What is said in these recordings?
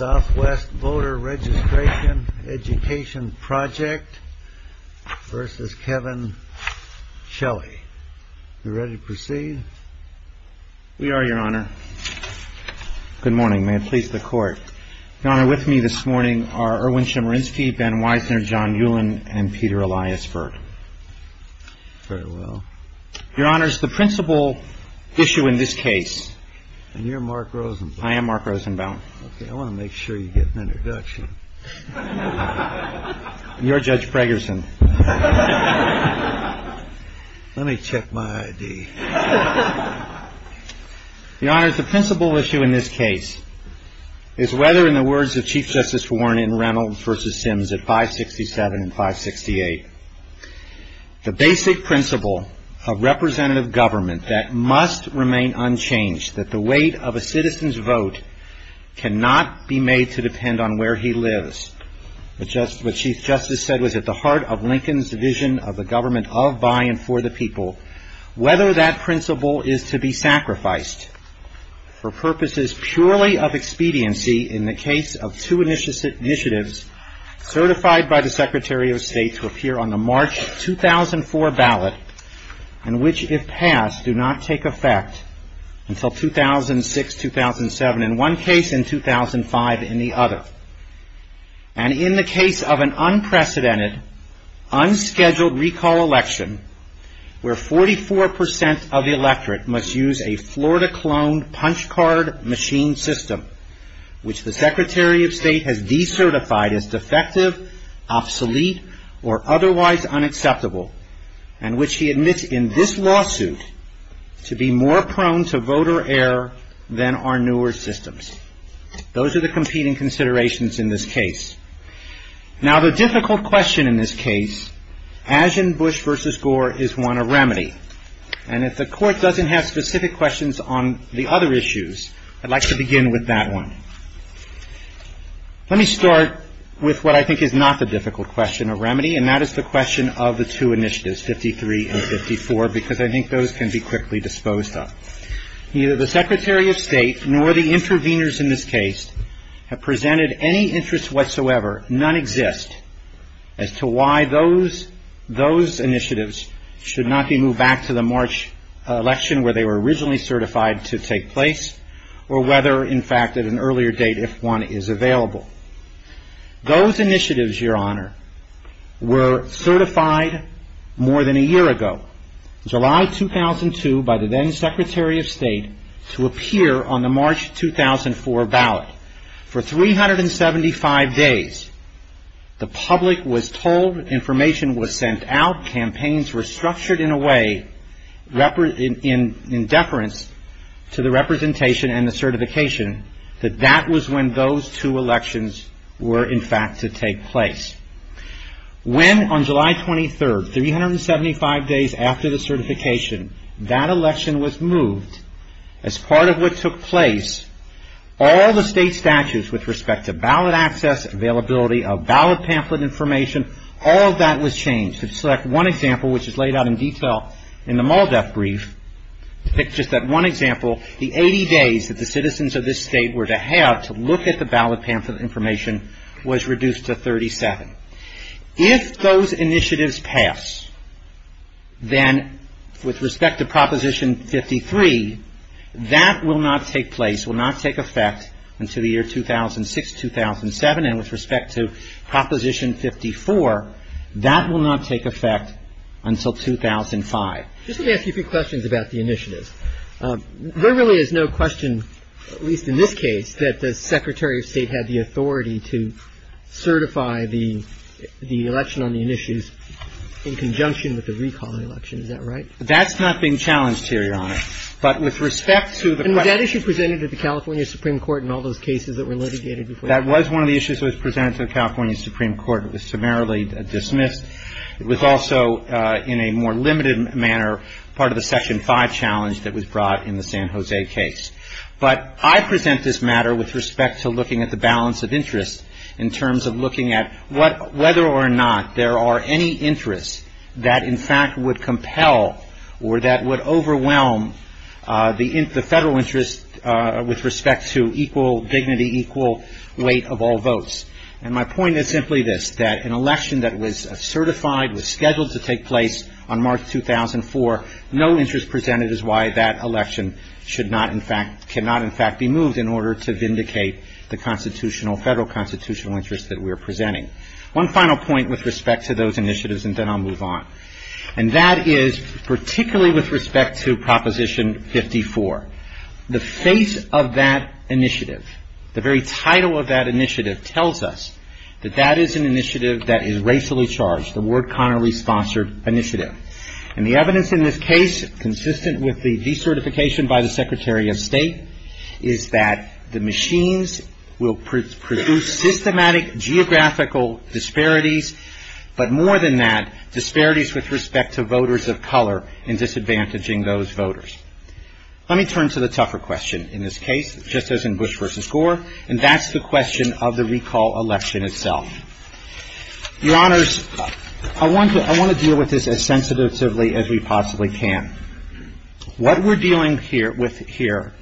Good morning, may it please the court. Your honor, with me this morning are Erwin Chemerinsky, Ben Weisner, John Ewan, and Peter Elias Berg. Very well. Your honor, the principal issue in this case... And you're Mark Rosenbaum. Okay. It's a non-profit organization. I want to make sure you get an introduction. You're Judge Pregerson. Let me check my ID. Your honor, the principal issue in this case is whether, in the words of Chief Justice Warren and Reynolds v. Sims at 567 and 568, The basic principle of representative government that must remain unchanged, that the weight of a citizen's vote cannot be made to depend on where he lives. What Chief Justice said was at the heart of Lincoln's vision of a government of, by, and for the people. Whether that principle is to be sacrificed for purposes purely of expediency in the case of two initiatives certified by the Secretary of State to appear on the March 2004 ballot, in which, if passed, do not take effect until 2006, 2007. In one case, in 2005, in the other. And in the case of an unprecedented, unscheduled recall election, where 44% of the electorate must use a Florida-cloned punch card machine system, which the Secretary of State has decertified as defective, obsolete, or otherwise unacceptable, and which he admits in this lawsuit to be more prone to voter error than our newer systems. Those are the competing considerations in this case. Now, the difficult question in this case, as in Bush v. Gore, is one of remedy. And if the Court doesn't have specific questions on the other issues, I'd like to begin with that one. Let me start with what I think is not the difficult question of remedy, and that is the question of the two initiatives, 53 and 54, because I think those can be quickly disposed of. Neither the Secretary of State nor the interveners in this case have presented any interest whatsoever, none exist, as to why those initiatives should not be moved back to the March election, where they were originally certified to take place, or whether, in fact, at an earlier date, if one is available. Those initiatives, Your Honor, were certified more than a year ago, July 2002, by the then Secretary of State, to appear on the March 2004 ballot. For 375 days, the public was told information was sent out, campaigns were structured in a way, in deference to the representation and the certification, that that was when those two elections were, in fact, to take place. When, on July 23rd, 375 days after the certification, that election was moved, as part of what took place, all the state statutes with respect to ballot access, availability of ballot pamphlet information, all of that was changed. If you could select one example, which is laid out in detail in the MALDEF brief, just that one example, the 80 days that the citizens of this state were to have to look at the ballot pamphlet information was reduced to 37. If those initiatives pass, then with respect to Proposition 53, that will not take place, will not take effect until the year 2006-2007. And with respect to Proposition 54, that will not take effect until 2005. Just let me ask you a few questions about the initiative. There really is no question, at least in this case, that the Secretary of State had the authority to certify the election on the initiatives in conjunction with the recall election. Is that right? That's not being challenged here, Your Honor. But with respect to the- And was that issue presented to the California Supreme Court in all those cases that were litigated before- That was one of the issues that was presented to the California Supreme Court. It was summarily dismissed. It was also, in a more limited manner, part of the Section 5 challenge that was brought in the San Jose case. But I present this matter with respect to looking at the balance of interest in terms of looking at whether or not there are any interests that, in fact, would compel or that would overwhelm the federal interest with respect to equal dignity, equal weight of all votes. And my point is simply this, that an election that was certified, was scheduled to take place on March 2004, no interest presented is why that election should not, in fact, cannot, in fact, be moved in order to vindicate the constitutional, federal constitutional interest that we are presenting. One final point with respect to those initiatives and then I'll move on. And that is particularly with respect to Proposition 54. The face of that initiative, the very title of that initiative tells us that that is an initiative that is racially charged, the Ward-Connery Sponsored Initiative. And the evidence in this case, consistent with the decertification by the Secretary of State, is that the machines will produce systematic geographical disparities, but more than that, disparities with respect to voters of color and disadvantaging those voters. Let me turn to the tougher question in this case, just as in Bush v. Gore, and that's the question of the recall election itself. Your Honors, I want to deal with this as sensitively as we possibly can. What we're dealing with here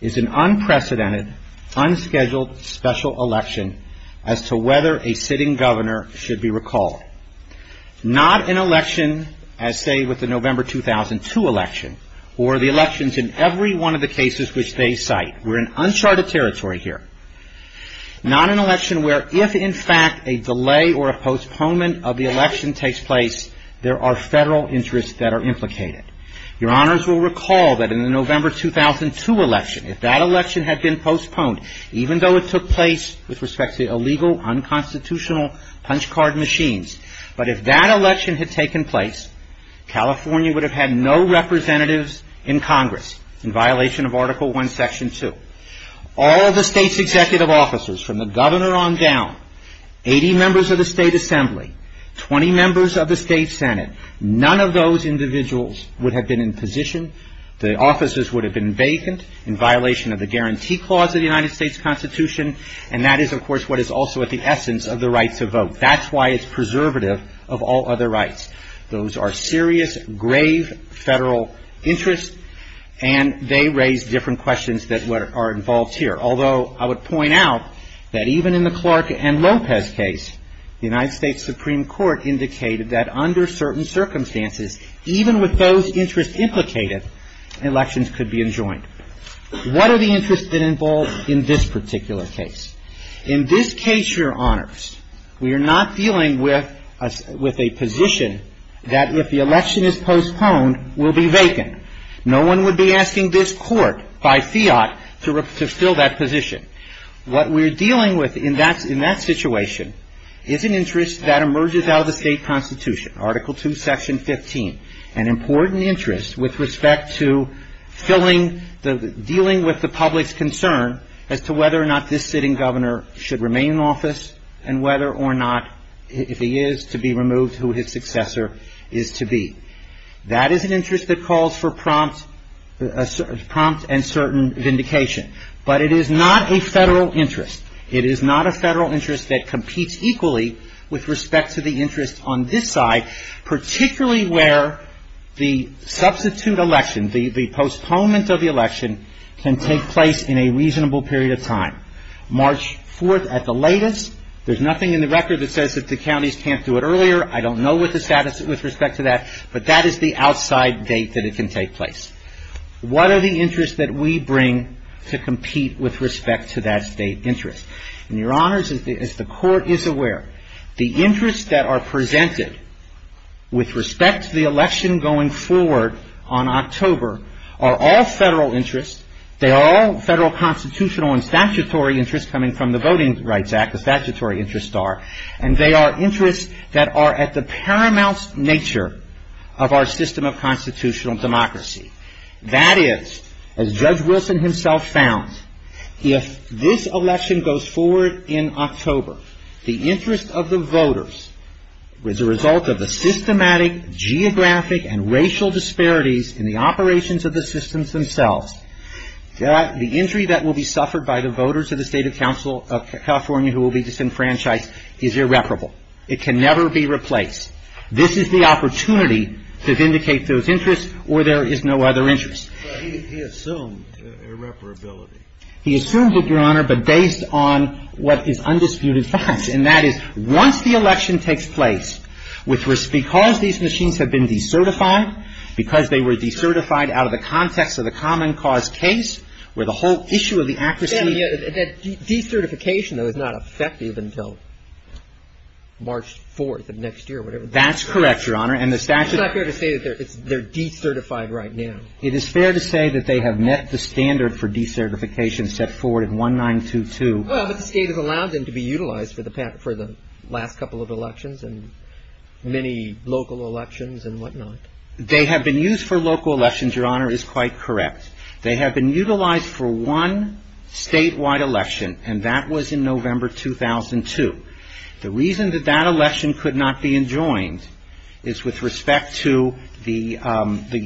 is an unprecedented, unscheduled, special election as to whether a sitting governor should be recalled. Not an election as, say, with the November 2002 election, or the elections in every one of the cases which they cite. We're in uncharted territory here. Not an election where if, in fact, a delay or a postponement of the election takes place, there are federal interests that are implicated. Your Honors will recall that in the November 2002 election, if that election had been postponed, even though it took place with respect to illegal, unconstitutional punch card machines, but if that election had taken place, California would have had no representatives in Congress in violation of Article I, Section 2. All of the state's executive officers, from the governor on down, 80 members of the state assembly, 20 members of the state senate, none of those individuals would have been in position. The offices would have been vacant in violation of the Guarantee Clause of the United States Constitution, and that is, of course, what is also at the essence of the right to vote. That's why it's preservative of all other rights. Those are serious, grave federal interests, and they raise different questions that are involved here. Although, I would point out that even in the Clark and Lopez case, the United States Supreme Court indicated that under certain circumstances, even with those interests implicated, elections could be enjoined. What are the interests involved in this particular case? In this case, Your Honors, we are not dealing with a position that if the election is postponed, will be vacant. No one would be asking this court, by fiat, to fill that position. What we're dealing with in that situation is an interest that emerges out of the state constitution, Article II, Section 15, an important interest with respect to dealing with the public's concern as to whether or not this sitting governor should remain in office, and whether or not, if he is to be removed, who his successor is to be. That is an interest that calls for prompt and certain vindication, but it is not a federal interest. It is not a federal interest that competes equally with respect to the interests on this side, particularly where the substitute election, the postponement of the election, can take place in a reasonable period of time. March 4th at the latest. There's nothing in the record that says that the counties can't do it earlier. I don't know what the status is with respect to that, but that is the outside date that it can take place. What are the interests that we bring to compete with respect to that state interest? And, Your Honors, as the Court is aware, the interests that are presented with respect to the election going forward on October are all federal interests. They are all federal constitutional and statutory interests coming from the Voting Rights Act, the statutory interests are. And they are interests that are at the paramount nature of our system of constitutional democracy. That is, as Judge Wilson himself found, if this election goes forward in October, the interest of the voters is a result of the systematic, geographic, and racial disparities in the operations of the systems themselves. The injury that will be suffered by the voters of the State of California who will be disenfranchised is irreparable. It can never be replaced. This is the opportunity to vindicate those interests, or there is no other interest. He assumed irreparability. He assumed it, Your Honor, but based on what is undisputed fact. And that is, once the election takes place, because these machines have been decertified, because they were decertified out of the context of the common cause case, where the whole issue of the accuracy... De-certification is not effective until March 4th of next year. That's correct, Your Honor, and the statute... It's not fair to say that they're decertified right now. It is fair to say that they have met the standard for decertification set forward in 1922. Well, but the State has allowed them to be utilized for the last couple of elections and many local elections and whatnot. They have been used for local elections, Your Honor, is quite correct. They have been utilized for one statewide election, and that was in November 2002. The reason that that election could not be enjoined is with respect to the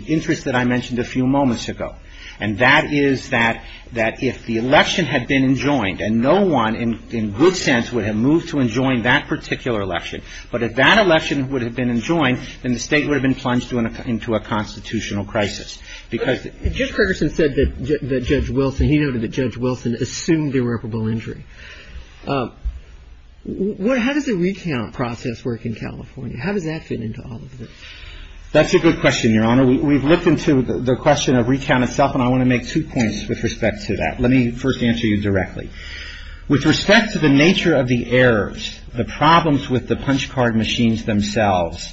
interest that I mentioned a few moments ago. And that is that if the election had been enjoined, and no one in good sense would have moved to enjoin that particular election, but if that election would have been enjoined, then the State would have been plunged into a constitutional crisis. Judge Ferguson said that Judge Wilson... He noted that Judge Wilson assumed irreparable injury. How did the recount process work in California? How did that fit into all of this? That's a good question, Your Honor. We've looked into the question of recount itself, and I want to make two points with respect to that. Let me first answer you directly. With respect to the nature of the errors, the problems with the punch card machines themselves,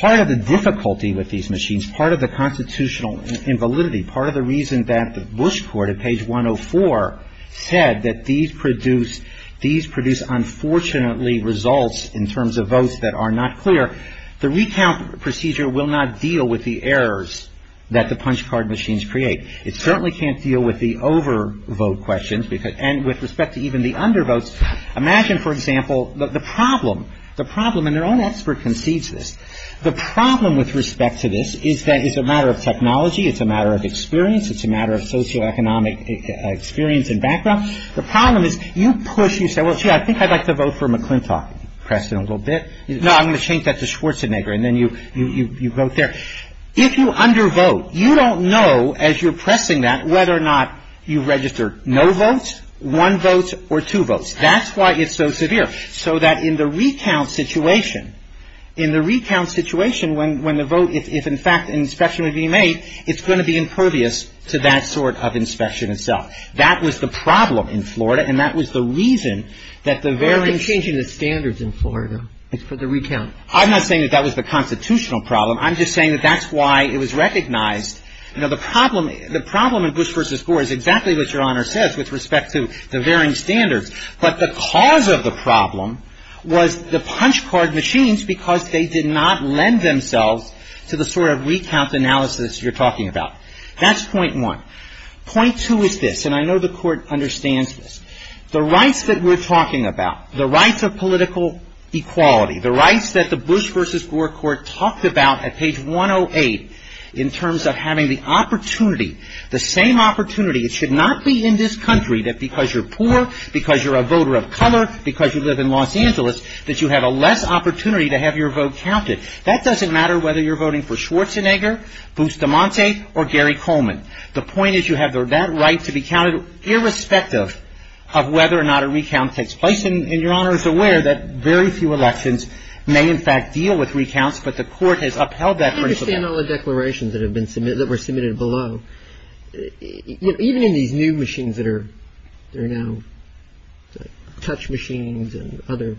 part of the difficulty with these machines, part of the constitutional invalidity, part of the reason that the Bush Court at page 104 said that these produce unfortunately results in terms of votes that are not clear, the recount procedure will not deal with the errors that the punch card machines create. It certainly can't deal with the overvote questions, and with respect to even the undervotes. Imagine, for example, the problem, and your own expert concedes this, the problem with respect to this is that it's a matter of technology, it's a matter of experience, it's a matter of socioeconomic experience and background. The problem is you push, you say, well, gee, I think I'd like to vote for McClintock, press in a little bit. No, I'm going to change that to Schwarzenegger, and then you vote there. If you undervote, you don't know as you're pressing that whether or not you've registered no votes, one vote, or two votes. That's why it's so severe, so that in the recount situation, in the recount situation when the vote is, in fact, an inspection would be made, it's going to be impervious to that sort of inspection itself. That was the problem in Florida, and that was the reason that the varying standards in Florida is for the recount. I'm not saying that that was the constitutional problem. I'm just saying that that's why it was recognized. Now, the problem in Bush v. Gore is exactly what Your Honor says with respect to the varying standards, but the cause of the problem was the punch card machines because they did not lend themselves to the sort of recount analysis you're talking about. That's point one. Point two is this, and I know the Court understands this. The rights that we're talking about, the rights of political equality, the rights that the Bush v. Gore Court talked about at page 108 in terms of having the opportunity, the same opportunity. It should not be in this country that because you're poor, because you're a voter of color, because you live in Los Angeles, that you have a less opportunity to have your vote counted. That doesn't matter whether you're voting for Schwarzenegger, Bustamante, or Gary Coleman. The point is you have that right to be counted irrespective of whether or not a recount takes place, and Your Honor is aware that very few elections may in fact deal with recounts, but the Court has upheld that principle. I understand all the declarations that have been submitted, that were submitted below. Even in these new machines that are now touch machines and other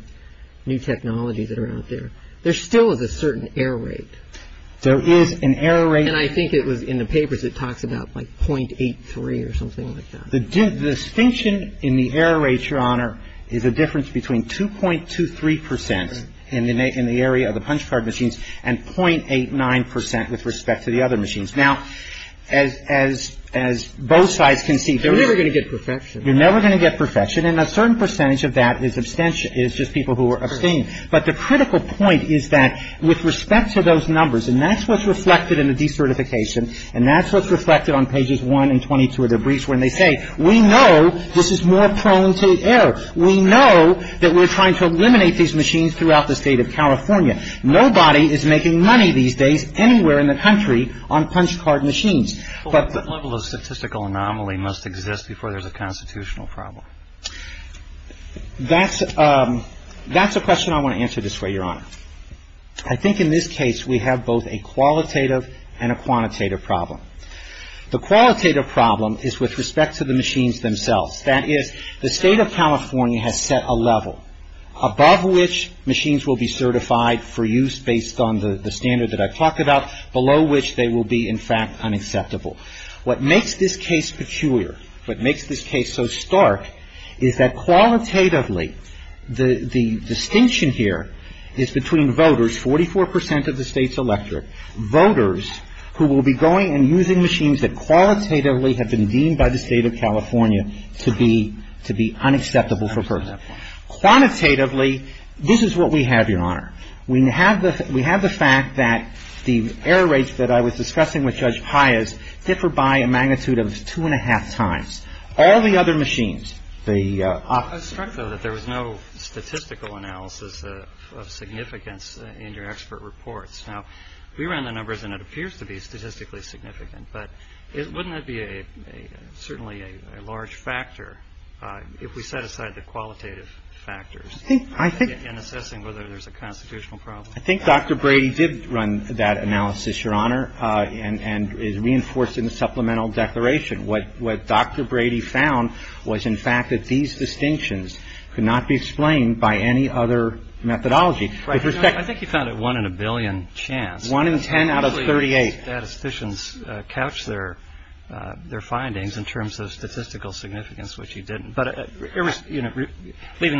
new technologies that are out there, there still is a certain error rate. There is an error rate. And I think it was in the papers it talks about like .83 or something like that. The distinction in the error rate, Your Honor, is a difference between 2.23 percent in the area of the punch card machines and .89 percent with respect to the other machines. Now, as both sides can see, you're never going to get perfection, and a certain percentage of that is just people who are obscene. But the critical point is that with respect to those numbers, and that's what's reflected in the decertification, and that's what's reflected on pages 1 and 22 of the briefs when they say, we know this is more prone to error. We know that we're trying to eliminate these machines throughout the state of California. Nobody is making money these days anywhere in the country on punch card machines. What level of statistical anomaly must exist before there's a constitutional problem? That's a question I want to answer this way, Your Honor. I think in this case we have both a qualitative and a quantitative problem. The qualitative problem is with respect to the machines themselves. That is, the state of California has set a level above which machines will be certified for use based on the standard that I talked about, below which they will be, in fact, unacceptable. What makes this case peculiar, what makes this case so stark, is that qualitatively the distinction here is between voters, 44 percent of the state's electorate, voters who will be going and using machines that qualitatively have been deemed by the state of California to be unacceptable for purpose. Quantitatively, this is what we have, Your Honor. We have the fact that the error rates that I was discussing with Judge Pius differ by a magnitude of two and a half times. All the other machines, the office... I was struck, though, that there was no statistical analysis of significance in your expert reports. Now, we ran the numbers and it appears to be statistically significant, but wouldn't that be certainly a large factor if we set aside the qualitative factors... I think... ...in assessing whether there's a constitutional problem. I think Dr. Brady did run that analysis, Your Honor, and is reinforcing the supplemental declaration. What Dr. Brady found was, in fact, that these distinctions could not be explained by any other methodology. I think he found it one in a billion chance. One in ten out of 38. Statisticians couch their findings in terms of statistical significance, which he didn't. I don't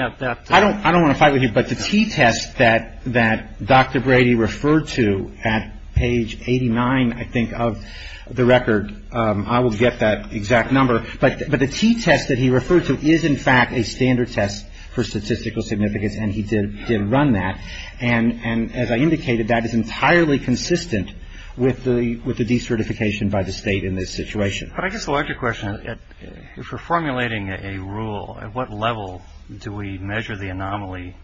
want to fight with you, but the t-test that Dr. Brady referred to at page 89, I think, of the record, I will get that exact number. But the t-test that he referred to is, in fact, a standard test for statistical significance, and he did run that. And as I indicated, that is entirely consistent with the decertification by the state in this situation. But I guess I'll ask you a question. If we're formulating a rule, at what level do we measure the anomaly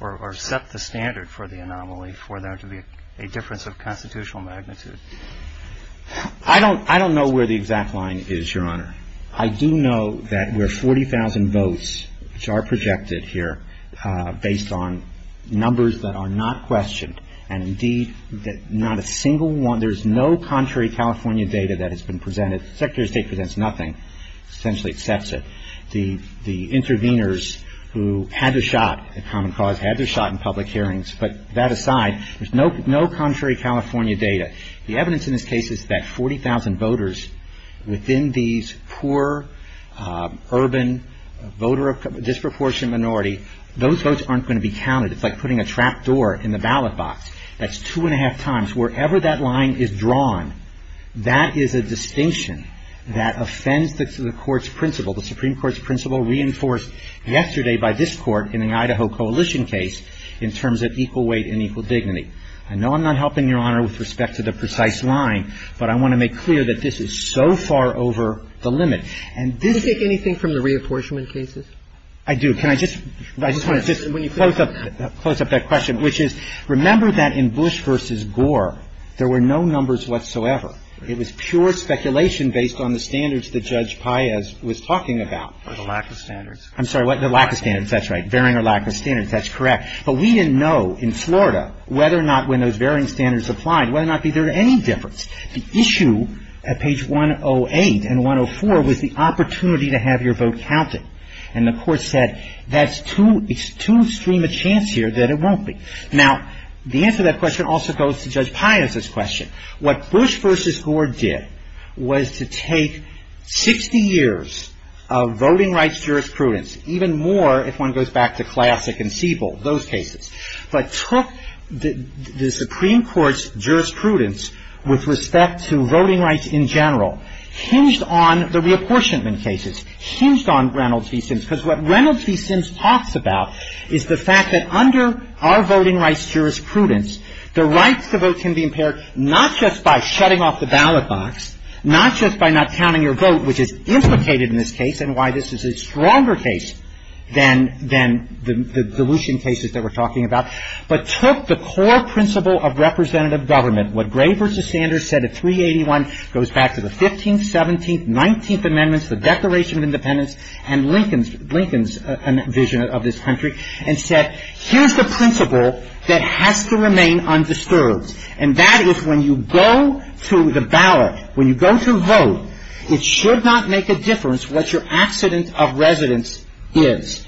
or set the standard for the anomaly for there to be a difference of constitutional magnitude? I don't know where the exact line is, Your Honor. I do know that we're 40,000 votes, which are projected here, based on numbers that are not questioned, and, indeed, not a single one, there's no contrary California data that has been presented. The Secretary of State presents nothing. Essentially accepts it. The interveners who had the shot at common cause had the shot in public hearings. But that aside, there's no contrary California data. The evidence in this case is that 40,000 voters within these poor, urban, voter-disproportionate minority, those votes aren't going to be counted. It's like putting a trap door in the ballot box. That's two and a half times. Wherever that line is drawn, that is a distinction that offends the Court's principle, the Supreme Court's principle reinforced yesterday by this Court in an Idaho coalition case, in terms of equal weight and equal dignity. I know I'm not helping, Your Honor, with respect to the precise line, but I want to make clear that this is so far over the limit. And do you take anything from the reapportionment cases? I do. Can I just, when you close up that question, which is, remember that in Bush v. Gore, there were no numbers whatsoever. It was pure speculation based on the standards that Judge Paez was talking about. The lack of standards. I'm sorry, the lack of standards. That's right. Bearing a lack of standards. That's correct. But we didn't know in Florida whether or not when those varying standards applied, whether or not there was any difference. The issue at page 108 and 104 was the opportunity to have your vote counted. And the Court said, that's too extreme a chance here that it won't be. Now, the answer to that question also goes to Judge Paez's question. What Bush v. Gore did was to take 60 years of voting rights jurisprudence, even more if one goes back to Classic and Siebel, those cases, but took the Supreme Court's jurisprudence with respect to voting rights in general, hinged on the reapportionment cases, hinged on Reynolds v. Sims, because what Reynolds v. Sims talks about is the fact that under our voting rights jurisprudence, the right to vote can be impaired not just by shutting off the ballot box, not just by not counting your vote, which is implicated in this case and why this is a stronger case than the dilution cases that we're talking about, but took the core principle of representative government, what Gray v. Sanders said at 381, goes back to the 15th, 17th, 19th Amendments, the Declaration of Independence, and Lincoln's vision of this country, and said, here's the principle that has to remain undisturbed, and that is when you go to the ballot, when you go to vote, it should not make a difference what your accident of residence is.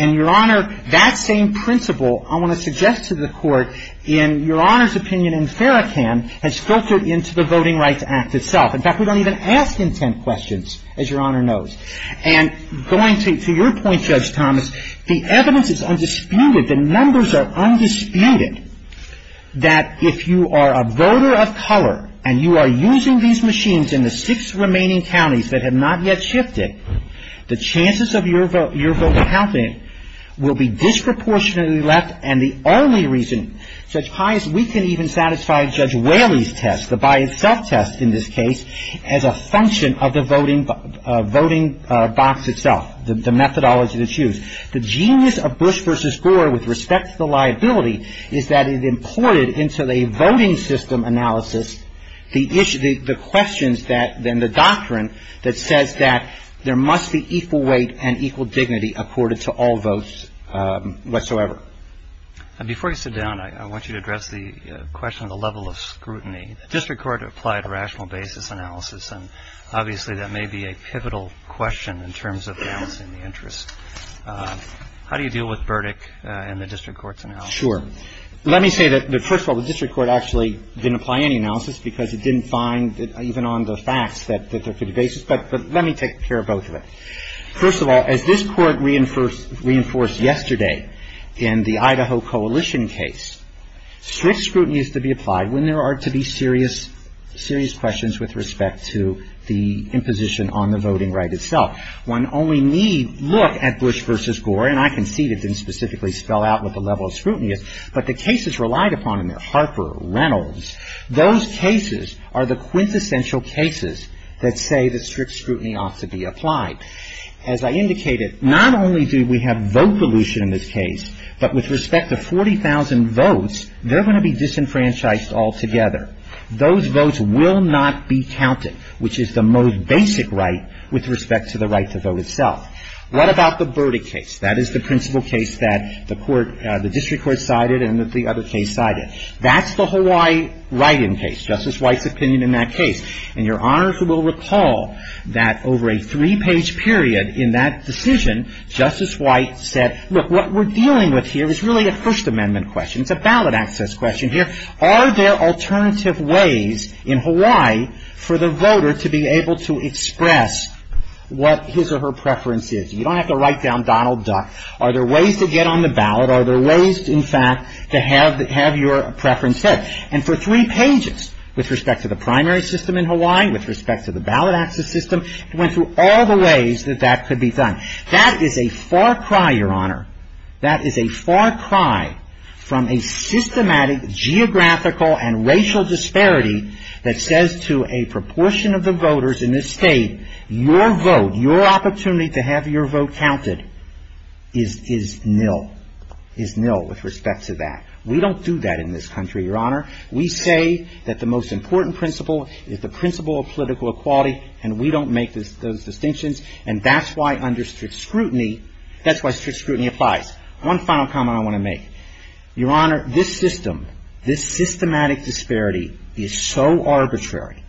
And, Your Honor, that same principle, I want to suggest to the Court, in Your Honor's opinion in Farrakhan, has filtered into the Voting Rights Act itself. In fact, we don't even ask intent questions, as Your Honor knows. And going to your point, Judge Thomas, the evidence is undisputed, the numbers are undisputed, that if you are a voter of color and you are using these machines in the six remaining counties that have not yet shifted, the chances of your vote counting will be disproportionately less, and the only reason, Judge Pius, we can even satisfy Judge Whaley's test, the by-itself test in this case, as a function of the voting box itself, the methodology that's used. The genius of Bush v. Gore, with respect to the liability, is that it imported into a voting system analysis the questions that, and the doctrine that says that there must be equal weight and equal dignity accorded to all votes whatsoever. Before you sit down, I want you to address the question of the level of scrutiny. The District Court applied a rational basis analysis, and obviously that may be a pivotal question in terms of damaging the interest. How do you deal with Burdick and the District Court's analysis? Sure. Let me say that, first of all, the District Court actually didn't apply any analysis because it didn't find, even on the facts, that there could be basis. But let me take care of both of them. First of all, as this Court reinforced yesterday in the Idaho Coalition case, strict scrutiny is to be applied when there are to be serious questions with respect to the imposition on the voting right itself. When only we look at Bush v. Gore, and I can see they didn't specifically spell out what the level of scrutiny is, but the cases relied upon in there, Harper, Reynolds, those cases are the quintessential cases that say that strict scrutiny ought to be applied. As I indicated, not only do we have vote pollution in this case, but with respect to 40,000 votes, they're going to be disenfranchised altogether. Those votes will not be counted, which is the most basic right with respect to the right to vote itself. What about the Burdick case? That is the principal case that the District Court sided and that the other case sided. That's the Hawaii write-in case, Justice White's opinion in that case. And you're honored to recall that over a three-page period in that decision, Justice White said, look, what we're dealing with here is really a First Amendment question. It's a ballot access question here. Are there alternative ways in Hawaii for the voter to be able to express what his or her preference is? You don't have to write down Donald Duck. Are there ways to get on the ballot? Are there ways, in fact, to have your preference hit? And for three pages, with respect to the primary system in Hawaii, with respect to the ballot access system, went through all the ways that that could be done. That is a far cry, Your Honor. That is a far cry from a systematic geographical and racial disparity that says to a proportion of the voters in this state, your vote, your opportunity to have your vote counted is nil. It's nil with respect to that. We don't do that in this country, Your Honor. We say that the most important principle is the principle of political equality, and we don't make those distinctions. And that's why under strict scrutiny, that's why strict scrutiny applies. One final comment I want to make. Your Honor, this system, this systematic disparity is so arbitrary.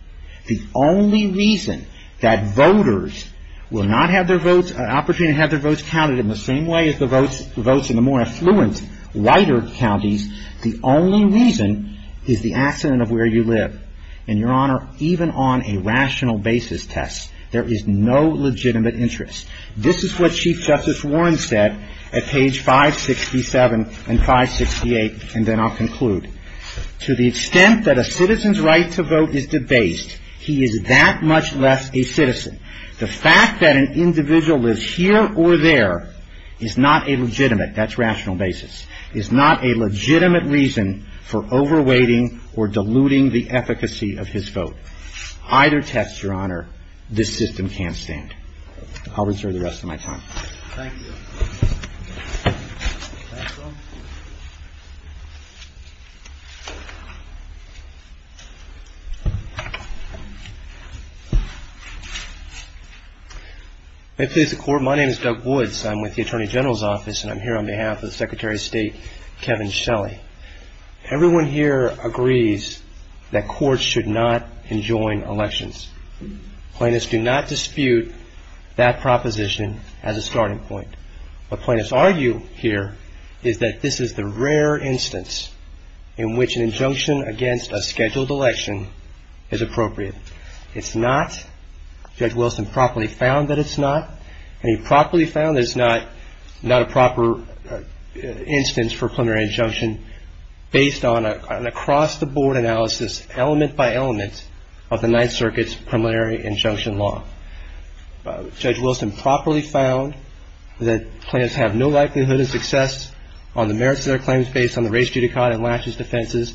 The only reason that voters will not have their votes, an opportunity to have their votes counted in the same way as the votes in the more affluent, whiter counties, the only reason is the accident of where you live. And, Your Honor, even on a rational basis test, there is no legitimate interest. This is what Chief Justice Warren said at page 567 and 568, and then I'll conclude. To the extent that a citizen's right to vote is debased, he is that much less a citizen. The fact that an individual lives here or there is not a legitimate, that's rational basis, is not a legitimate reason for over-weighting or diluting the efficacy of his vote. Either test, Your Honor, this system can't stand. I'll reserve the rest of my time. Thank you. My name is Doug Woods. I'm with the Attorney General's Office, and I'm here on behalf of Secretary of State Kevin Shelley. Everyone here agrees that courts should not enjoin elections. Plaintiffs do not dispute that proposition as a starting point. What plaintiffs argue here is that this is the rare instance in which an injunction against a scheduled election is appropriate. It's not. Judge Wilson properly found that it's not, and he properly found that it's not a proper instance for preliminary injunction based on an across-the-board analysis, element by element, of the Ninth Circuit's preliminary injunction law. Judge Wilson properly found that plaintiffs have no likelihood of success on the merits of their claims based on the race, judicata, and last year's defenses,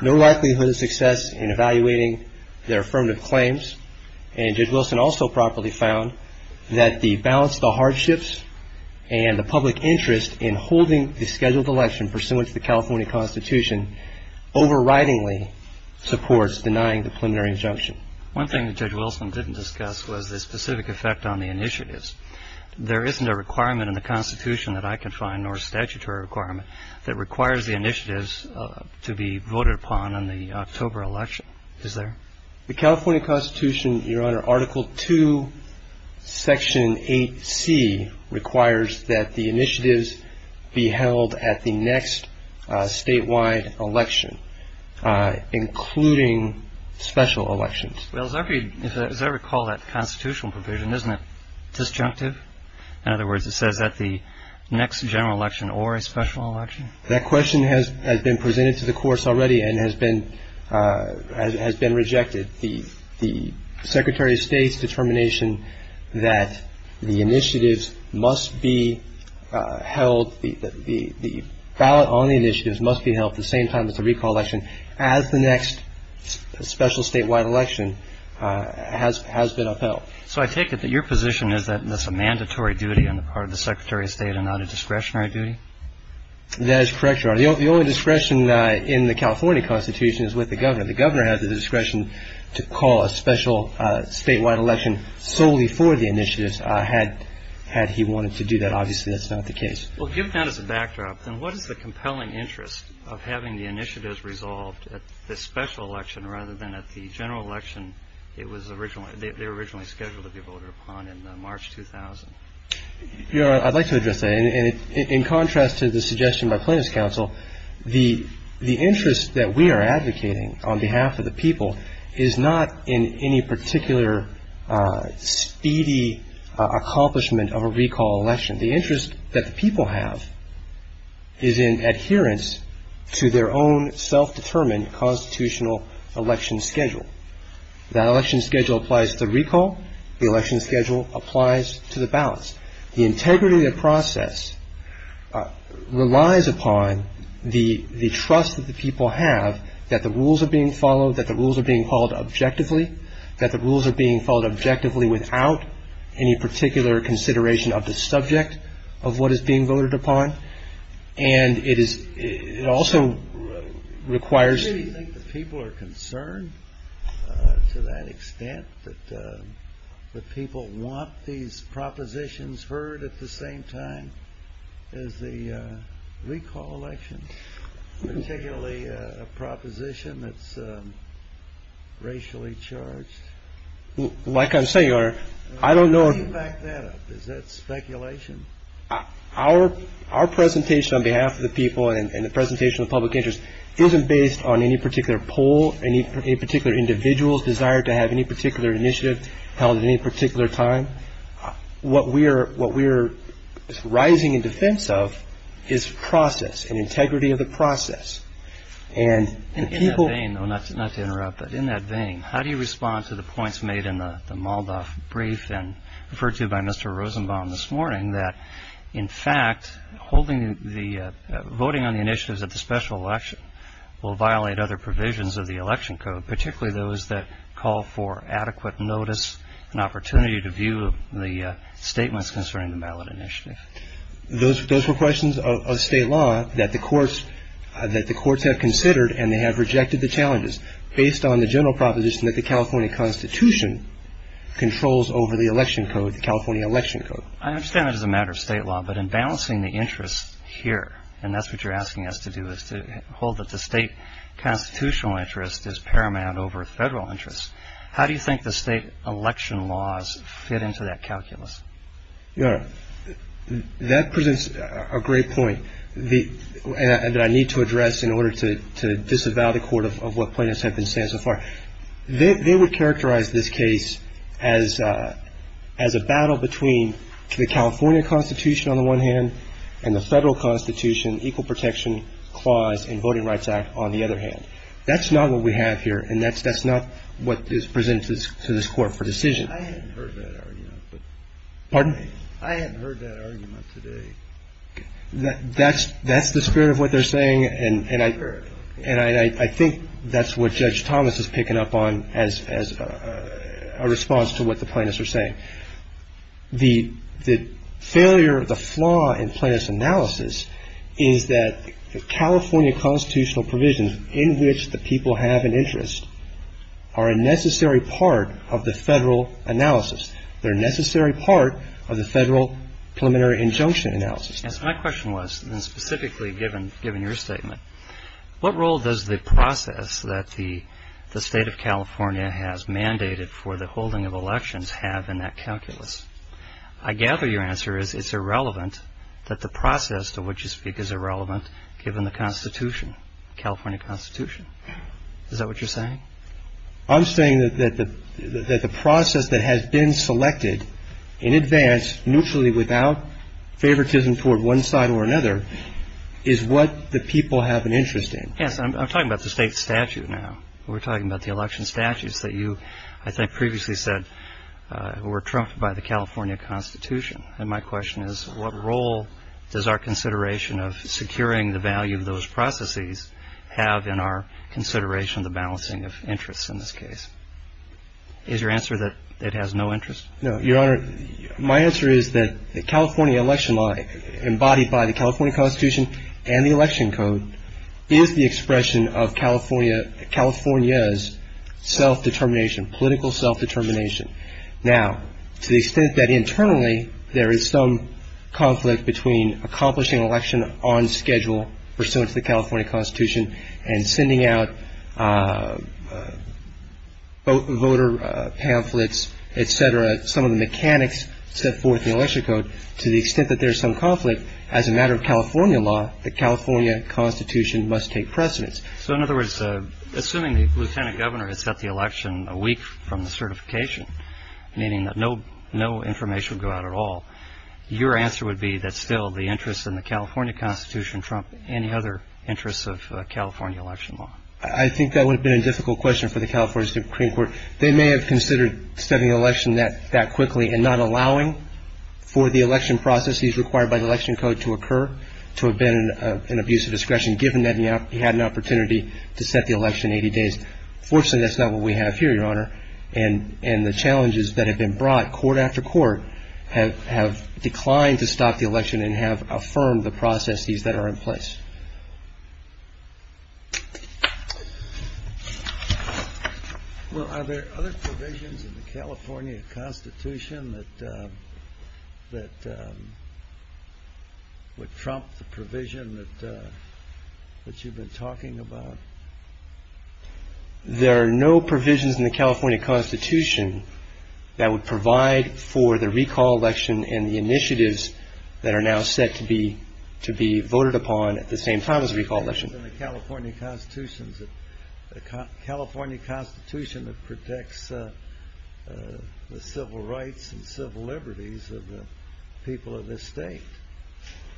no likelihood of success in evaluating their affirmative claims, and Judge Wilson also properly found that the balance of the hardships and the public interest in holding the scheduled election pursuant to the California Constitution overridingly supports denying the preliminary injunction. One thing that Judge Wilson didn't discuss was the specific effect on the initiatives. There isn't a requirement in the Constitution that I can find, nor a statutory requirement, that requires the initiatives to be voted upon on the October election, is there? The California Constitution, Your Honor, Article II, Section 8C, requires that the initiatives be held at the next statewide election, including special elections. Well, as I recall that constitutional provision, isn't it disjunctive? In other words, it says at the next general election or a special election? That question has been presented to the course already and has been rejected. The Secretary of State's determination that the initiatives must be held, the ballot on the initiatives must be held at the same time as the recall election as the next special statewide election has been upheld. So I take it that your position is that it's a mandatory duty on the part of the Secretary of State and not a discretionary duty? That is correct, Your Honor. The only discretion in the California Constitution is with the governor. The governor has the discretion to call a special statewide election solely for the initiatives, had he wanted to do that. Obviously, that's not the case. Well, given that as a backdrop, then what is the compelling interest of having the initiatives resolved at the special election rather than at the general election they were originally scheduled to be voted upon in March 2000? Your Honor, I'd like to address that. In contrast to the suggestion by Plaintiff's Counsel, the interest that we are advocating on behalf of the people is not in any particular speedy accomplishment of a recall election. The interest that the people have is in adherence to their own self-determined constitutional election schedule. The election schedule applies to the recall. The election schedule applies to the ballots. The integrity of the process relies upon the trust that the people have that the rules are being followed, that the rules are being followed objectively, that the rules are being followed objectively without any particular consideration of the subject of what is being voted upon. And it also requires... to that extent that the people want these propositions heard at the same time as the recall election, particularly a proposition that's racially charged. Like I say, Your Honor, I don't know... How do you back that up? Is that speculation? Our presentation on behalf of the people and the presentation of public interest isn't based on any particular poll, any particular individual's desire to have any particular initiative held at any particular time. What we are rising in defense of is process and integrity of the process. And people... In that vein, though, not to interrupt, but in that vein, how do you respond to the points made in the Moldoff brief and referred to by Mr. Rosenbaum this morning that, in fact, holding the... voting on the initiatives at the special election will violate other provisions of the election code, particularly those that call for adequate notice and opportunity to view the statements concerning the ballot initiatives? Those were questions of state law that the courts... that the courts have considered and they have rejected the challenges based on the general proposition that the California Constitution controls over the election code, the California election code. I understand it as a matter of state law, but in balancing the interest here, and that's what you're asking us to do, is to hold that the state constitutional interest is paramount over federal interest, how do you think the state election laws fit into that calculus? That presents a great point that I need to address in order to disavow the court of what plaintiffs have been saying so far. They would characterize this case as a battle between the California Constitution, on the one hand, and the federal Constitution, Equal Protection Clause and Voting Rights Act, on the other hand. That's not what we have here, and that's not what is presented to this court for decision. I haven't heard that argument. Pardon? I haven't heard that argument today. That's the spirit of what they're saying, and I think that's what Judge Thomas is picking up on as a response to what the plaintiffs are saying. The failure, the flaw in plaintiff's analysis is that California constitutional provisions in which the people have an interest are a necessary part of the federal analysis. They're a necessary part of the federal preliminary injunction analysis. My question was specifically given your statement, what role does the process that the state of California has mandated for the holding of elections have in that calculus? I gather your answer is it's irrelevant that the process to which you speak is irrelevant given the Constitution, California Constitution. Is that what you're saying? I'm saying that the process that has been selected in advance, mutually without favoritism toward one side or another, is what the people have an interest in. Yes, I'm talking about the state statute now. We're talking about the election statutes that you, as I previously said, were trumped by the California Constitution. And my question is, what role does our consideration of securing the value of those processes have in our consideration of the balancing of interests in this case? Is your answer that it has no interest? No, Your Honor, my answer is that the California election law, embodied by the California Constitution and the election code, is the expression of California's self-determination, political self-determination. Now, to the extent that internally there is some conflict between accomplishing an election on schedule, pursuant to the California Constitution, and sending out voter pamphlets, etc., some of the mechanics set forth in the election code, to the extent that there is some conflict, as a matter of California law, the California Constitution must take precedence. So, in other words, assuming the lieutenant governor has had the election a week from the certification, meaning that no information would go out at all, your answer would be that still the interest in the California Constitution trumped any other interest of California election law. I think that would have been a difficult question for the California Supreme Court. They may have considered setting an election that quickly and not allowing for the election processes required by the election code to occur, to prevent an abuse of discretion, given that he had an opportunity to set the election in 80 days. Fortunately, that's not what we have here, Your Honor. And the challenges that have been brought, court after court, have declined to stop the election and have affirmed the processes that are in place. Well, are there other provisions in the California Constitution that would trump the provision that you've been talking about? There are no provisions in the California Constitution that would provide for the recall election and the initiatives that are now set to be voted upon at the same time as the recall election. The California Constitution protects the civil rights and civil liberties of the people of this state.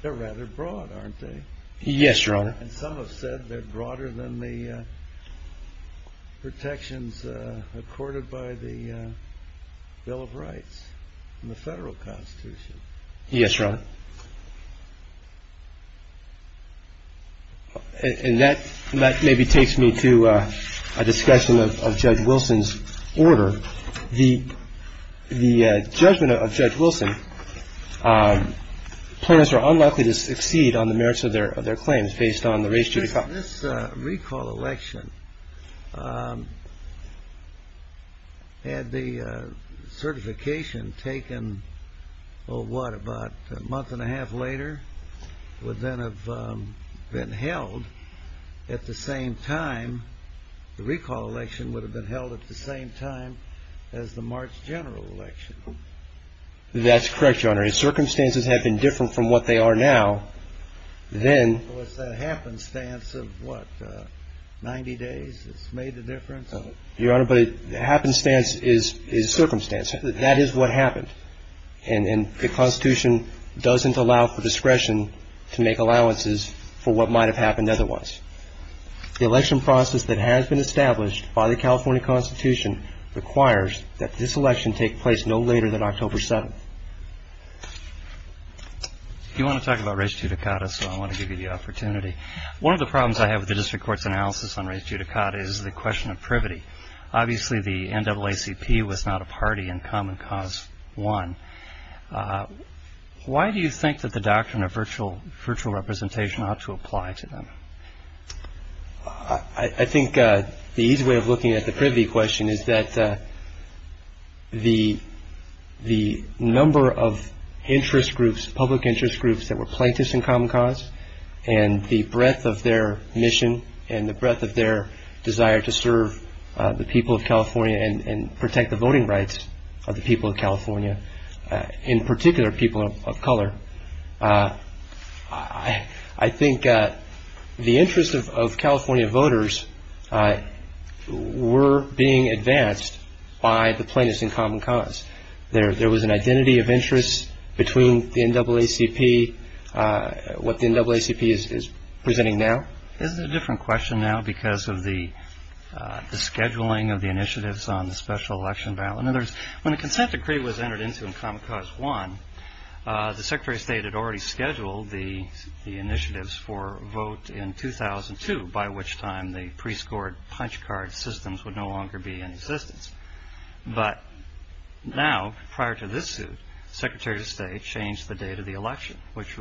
They're rather broad, aren't they? Yes, Your Honor. And some have said they're broader than the protections accorded by the Bill of Rights in the federal Constitution. Yes, Your Honor. And that maybe takes me to a discussion of Judge Wilson's order. The judgment of Judge Wilson, plaintiffs are unlikely to exceed on the merits of their claims based on the race to recall. This recall election, had the certification taken, oh, what, about a month and a half later, would then have been held at the same time, the recall election would have been held at the same time as the March general election. That's correct, Your Honor. If circumstances had been different from what they are now, then... Well, it's that happenstance of, what, 90 days that's made the difference? Your Honor, but happenstance is circumstance. That is what happened. And the Constitution doesn't allow for discretion to make allowances for what might have happened otherwise. The election process that has been established by the California Constitution requires that this election take place no later than October 7th. You want to talk about race judicata, so I want to give you the opportunity. One of the problems I have with the district court's analysis on race judicata is the question of privity. Obviously, the NAACP was not a party in Common Cause 1. Why do you think that the doctrine of virtual representation ought to apply to them? I think the easy way of looking at the privity question is that the number of interest groups, public interest groups that were plaintiffs in Common Cause, and the breadth of their mission, and the breadth of their desire to serve the people of California and protect the voting rights of the people of California, in particular people of color, I think the interest of California voters were being advanced by the plaintiffs in Common Cause. There was an identity of interest between the NAACP, what the NAACP is presenting now. Isn't it a different question now because of the scheduling of the initiatives on the special election ballot? In other words, when a consent decree was entered into in Common Cause 1, the Secretary of State had already scheduled the initiatives for vote in 2002, by which time the pre-scored punch card systems would no longer be in existence. But now, prior to this suit, the Secretary of State changed the date of the election, which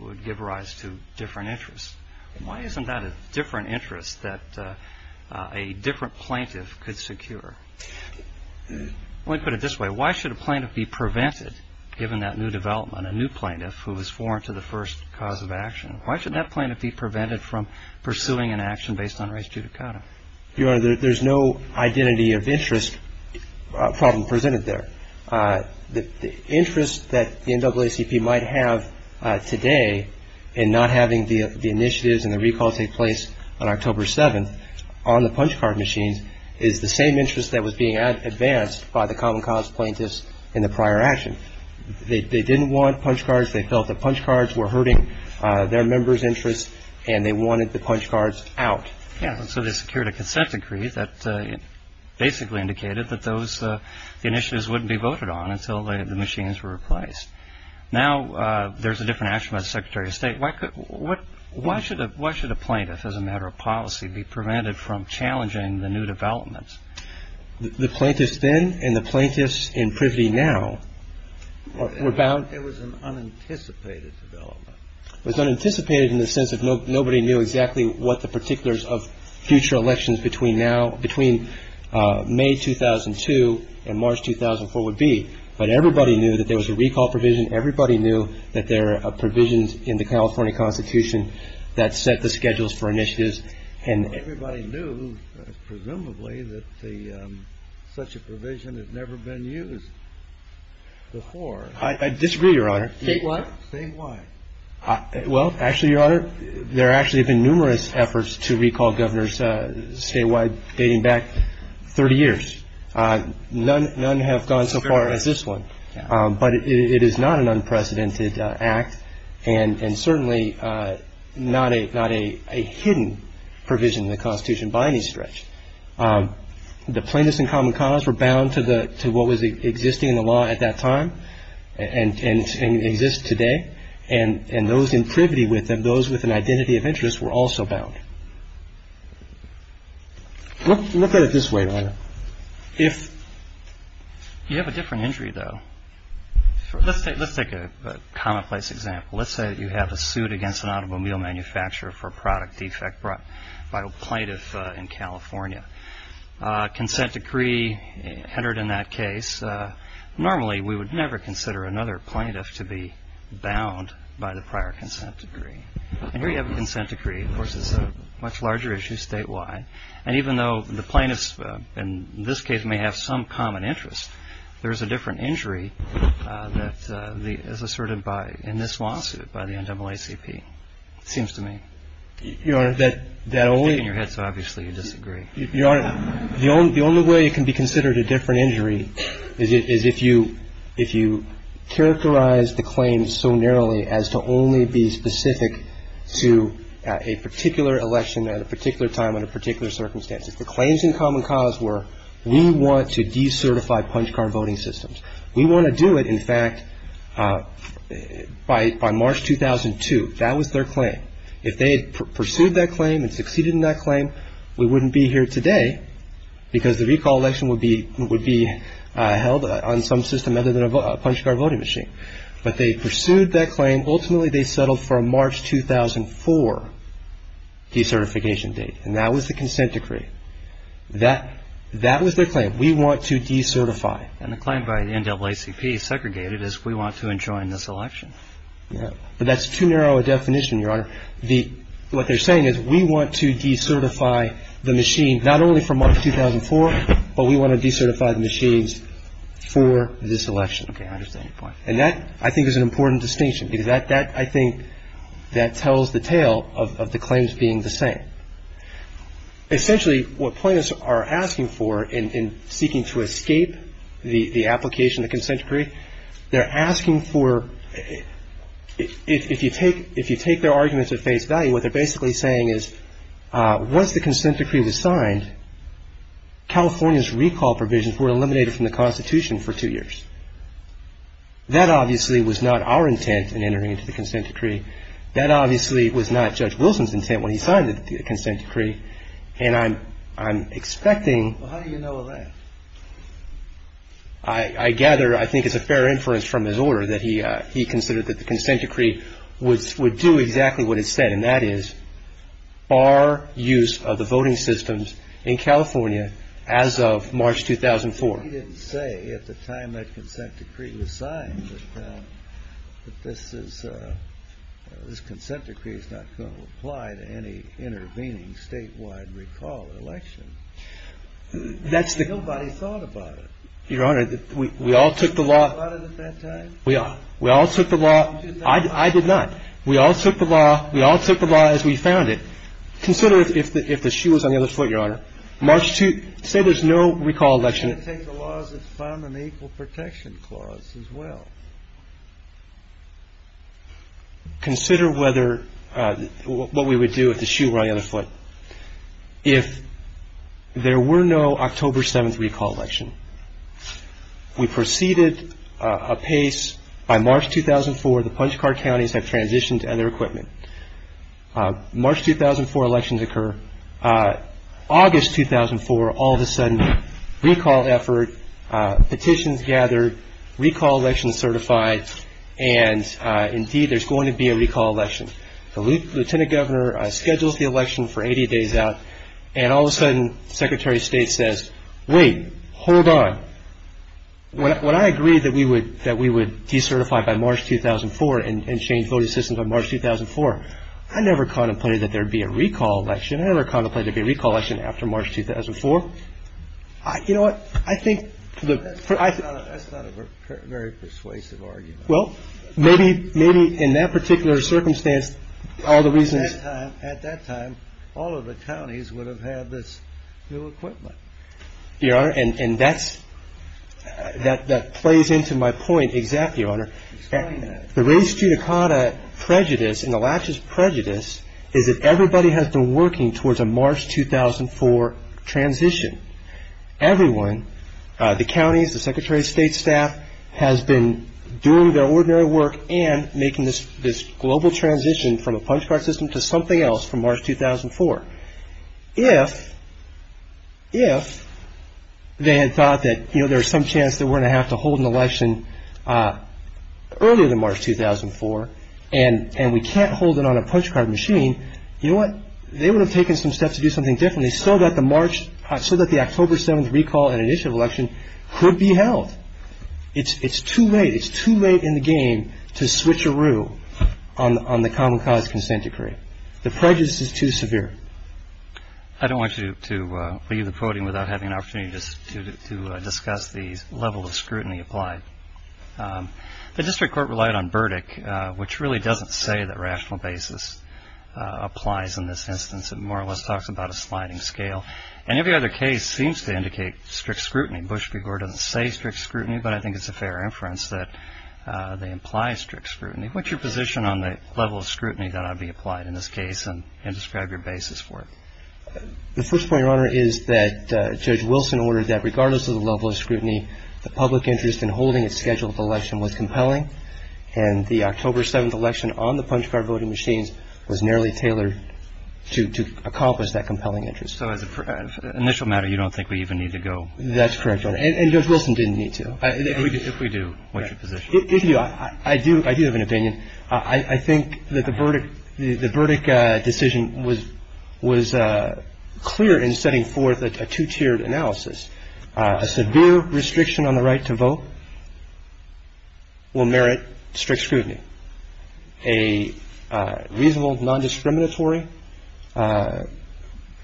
would give rise to different interests. Why isn't that a different interest that a different plaintiff could secure? Let me put it this way. Why should a plaintiff be prevented, given that new development, a new plaintiff who was sworn to the first cause of action, why should that plaintiff be prevented from pursuing an action based on race judicata? Your Honor, there's no identity of interest problem presented there. The interest that the NAACP might have today in not having the initiatives and the recall take place on October 7th on the punch card machines is the same interest that was being advanced by the Common Cause plaintiffs in the prior action. They didn't want punch cards. They felt the punch cards were hurting their members' interests, and they wanted the punch cards out. So they secured a consent decree that basically indicated that those initiatives wouldn't be voted on until the machines were replaced. Now there's a different action by the Secretary of State. Why should a plaintiff, as a matter of policy, be prevented from challenging the new developments? The plaintiffs then and the plaintiffs in Privy now were bound. It was an unanticipated development. It was unanticipated in the sense that nobody knew exactly what the particulars of future elections between May 2002 and March 2004 would be. But everybody knew that there was a recall provision. Everybody knew that there are provisions in the California Constitution that set the schedules for initiatives. And everybody knew, presumably, that such a provision had never been used before. I disagree, Your Honor. Say what? Say what? Well, actually, Your Honor, there actually have been numerous efforts to recall governors statewide dating back 30 years. None have gone so far as this one. But it is not an unprecedented act and certainly not a hidden provision in the Constitution by any stretch. The plaintiffs in Common Cause were bound to what was existing in the law at that time and exists today. And those in Privy, those with an identity of interest, were also bound. Look at it this way, Your Honor. You have a different injury, though. Let's take a complex example. Let's say that you have a suit against an automobile manufacturer for a product defect brought by a plaintiff in California. Consent decree entered in that case. Normally, we would never consider another plaintiff to be bound by the prior consent decree. And here you have a consent decree. Of course, it's a much larger issue statewide. And even though the plaintiffs in this case may have some common interest, there is a different injury that is asserted in this lawsuit by the NAACP, it seems to me. Your Honor, the only way it can be considered a different injury is if you characterize the claim so narrowly as to only be specific to a particular election at a particular time and a particular circumstance. If the claims in Common Cause were, we want to decertify punch card voting systems. We want to do it, in fact, by March 2002. That was their claim. If they had pursued that claim and succeeded in that claim, we wouldn't be here today because the recall election would be held on some system other than a punch card voting machine. But they pursued that claim. Ultimately, they settled for a March 2004 decertification date. And that was the consent decree. That was their claim. We want to decertify. And the claim by the NAACP segregated is we want to enjoin this election. Yeah. But that's too narrow a definition, Your Honor. What they're saying is we want to decertify the machines not only for March 2004, but we want to decertify the machines for this election. Okay. That's an interesting point. And that, I think, is an important distinction because that, I think, that tells the tale of the claims being the same. Essentially, what plaintiffs are asking for in seeking to escape the application of the consent decree, they're asking for, if you take their arguments at face value, what they're basically saying is once the consent decree was signed, California's recall provisions were eliminated from the Constitution for two years. That, obviously, was not our intent in entering into the consent decree. That, obviously, was not Judge Wilson's intent when he signed the consent decree. And I'm expecting... Well, how do you know that? I gather, I think it's a fair inference from his order that he considered that the consent decree would do exactly what it said, and that is bar use of the voting systems in California as of March 2004. He didn't say at the time that consent decree was signed that this is, this consent decree is not going to apply to any intervening statewide recall election. Nobody thought about it. Your Honor, we all took the law... You thought about it at that time? I did not. I did not. We took the law as we found it. Consider if the shoe was on the other foot, Your Honor. March 2004... Say there's no recall election. I take the law as it's found in the Equal Protection Clause as well. Consider whether, what we would do if the shoe were on the other foot. If there were no October 7th recall election, we proceeded apace by March 2004. The punch card counties have transitioned to other equipment. March 2004 elections occur. August 2004, all of a sudden, recall effort, petitions gathered, recall election certified, and indeed there's going to be a recall election. The Lieutenant Governor schedules the election for 80 days out, and all of a sudden, Secretary of State says, wait, hold on. When I agreed that we would decertify by March 2004 and change voting systems on March 2004, I never contemplated that there would be a recall election. I never contemplated there would be a recall election after March 2004. You know what, I think... That's not a very persuasive argument. Well, maybe in that particular circumstance, all the reasons... At that time, all of the counties would have had this new equipment. Your Honor, and that plays into my point exactly, Your Honor. The race judicata prejudice and the laches prejudice is that everybody has been working towards a March 2004 transition. Everyone, the counties, the Secretary of State staff, has been doing their ordinary work and making this global transition from a punch card system to something else from March 2004. If they had thought that there's some chance that we're going to have to hold an election earlier than March 2004, and we can't hold it on a punch card machine, you know what, they would have taken some steps to do something differently so that the October 7th recall and initial election could be held. It's too late. It's too late in the game to switch a rule on the common college consent decree. The prejudice is too severe. I don't want you to leave the podium without having an opportunity to discuss the level of scrutiny applied. The district court relied on verdict, which really doesn't say that rational basis applies in this instance. It more or less talks about a sliding scale. And every other case seems to indicate strict scrutiny. Bush v. Gore doesn't say strict scrutiny, but I think it's a fair inference that they imply strict scrutiny. What's your position on the level of scrutiny that ought to be applied in this case and describe your basis for it? The first point, Your Honor, is that Judge Wilson ordered that regardless of the level of scrutiny, the public interest in holding a scheduled election was compelling, and the October 7th election on the punch card voting machine was narrowly tailored to accomplish that compelling interest. So for the initial matter, you don't think we even need to go? That's correct, Your Honor. And Judge Wilson didn't need to. If we do, what's your position? I do have an opinion. I think that the verdict decision was clear in setting forth a two-tiered analysis. A severe restriction on the right to vote will merit strict scrutiny. A reasonable, non-discriminatory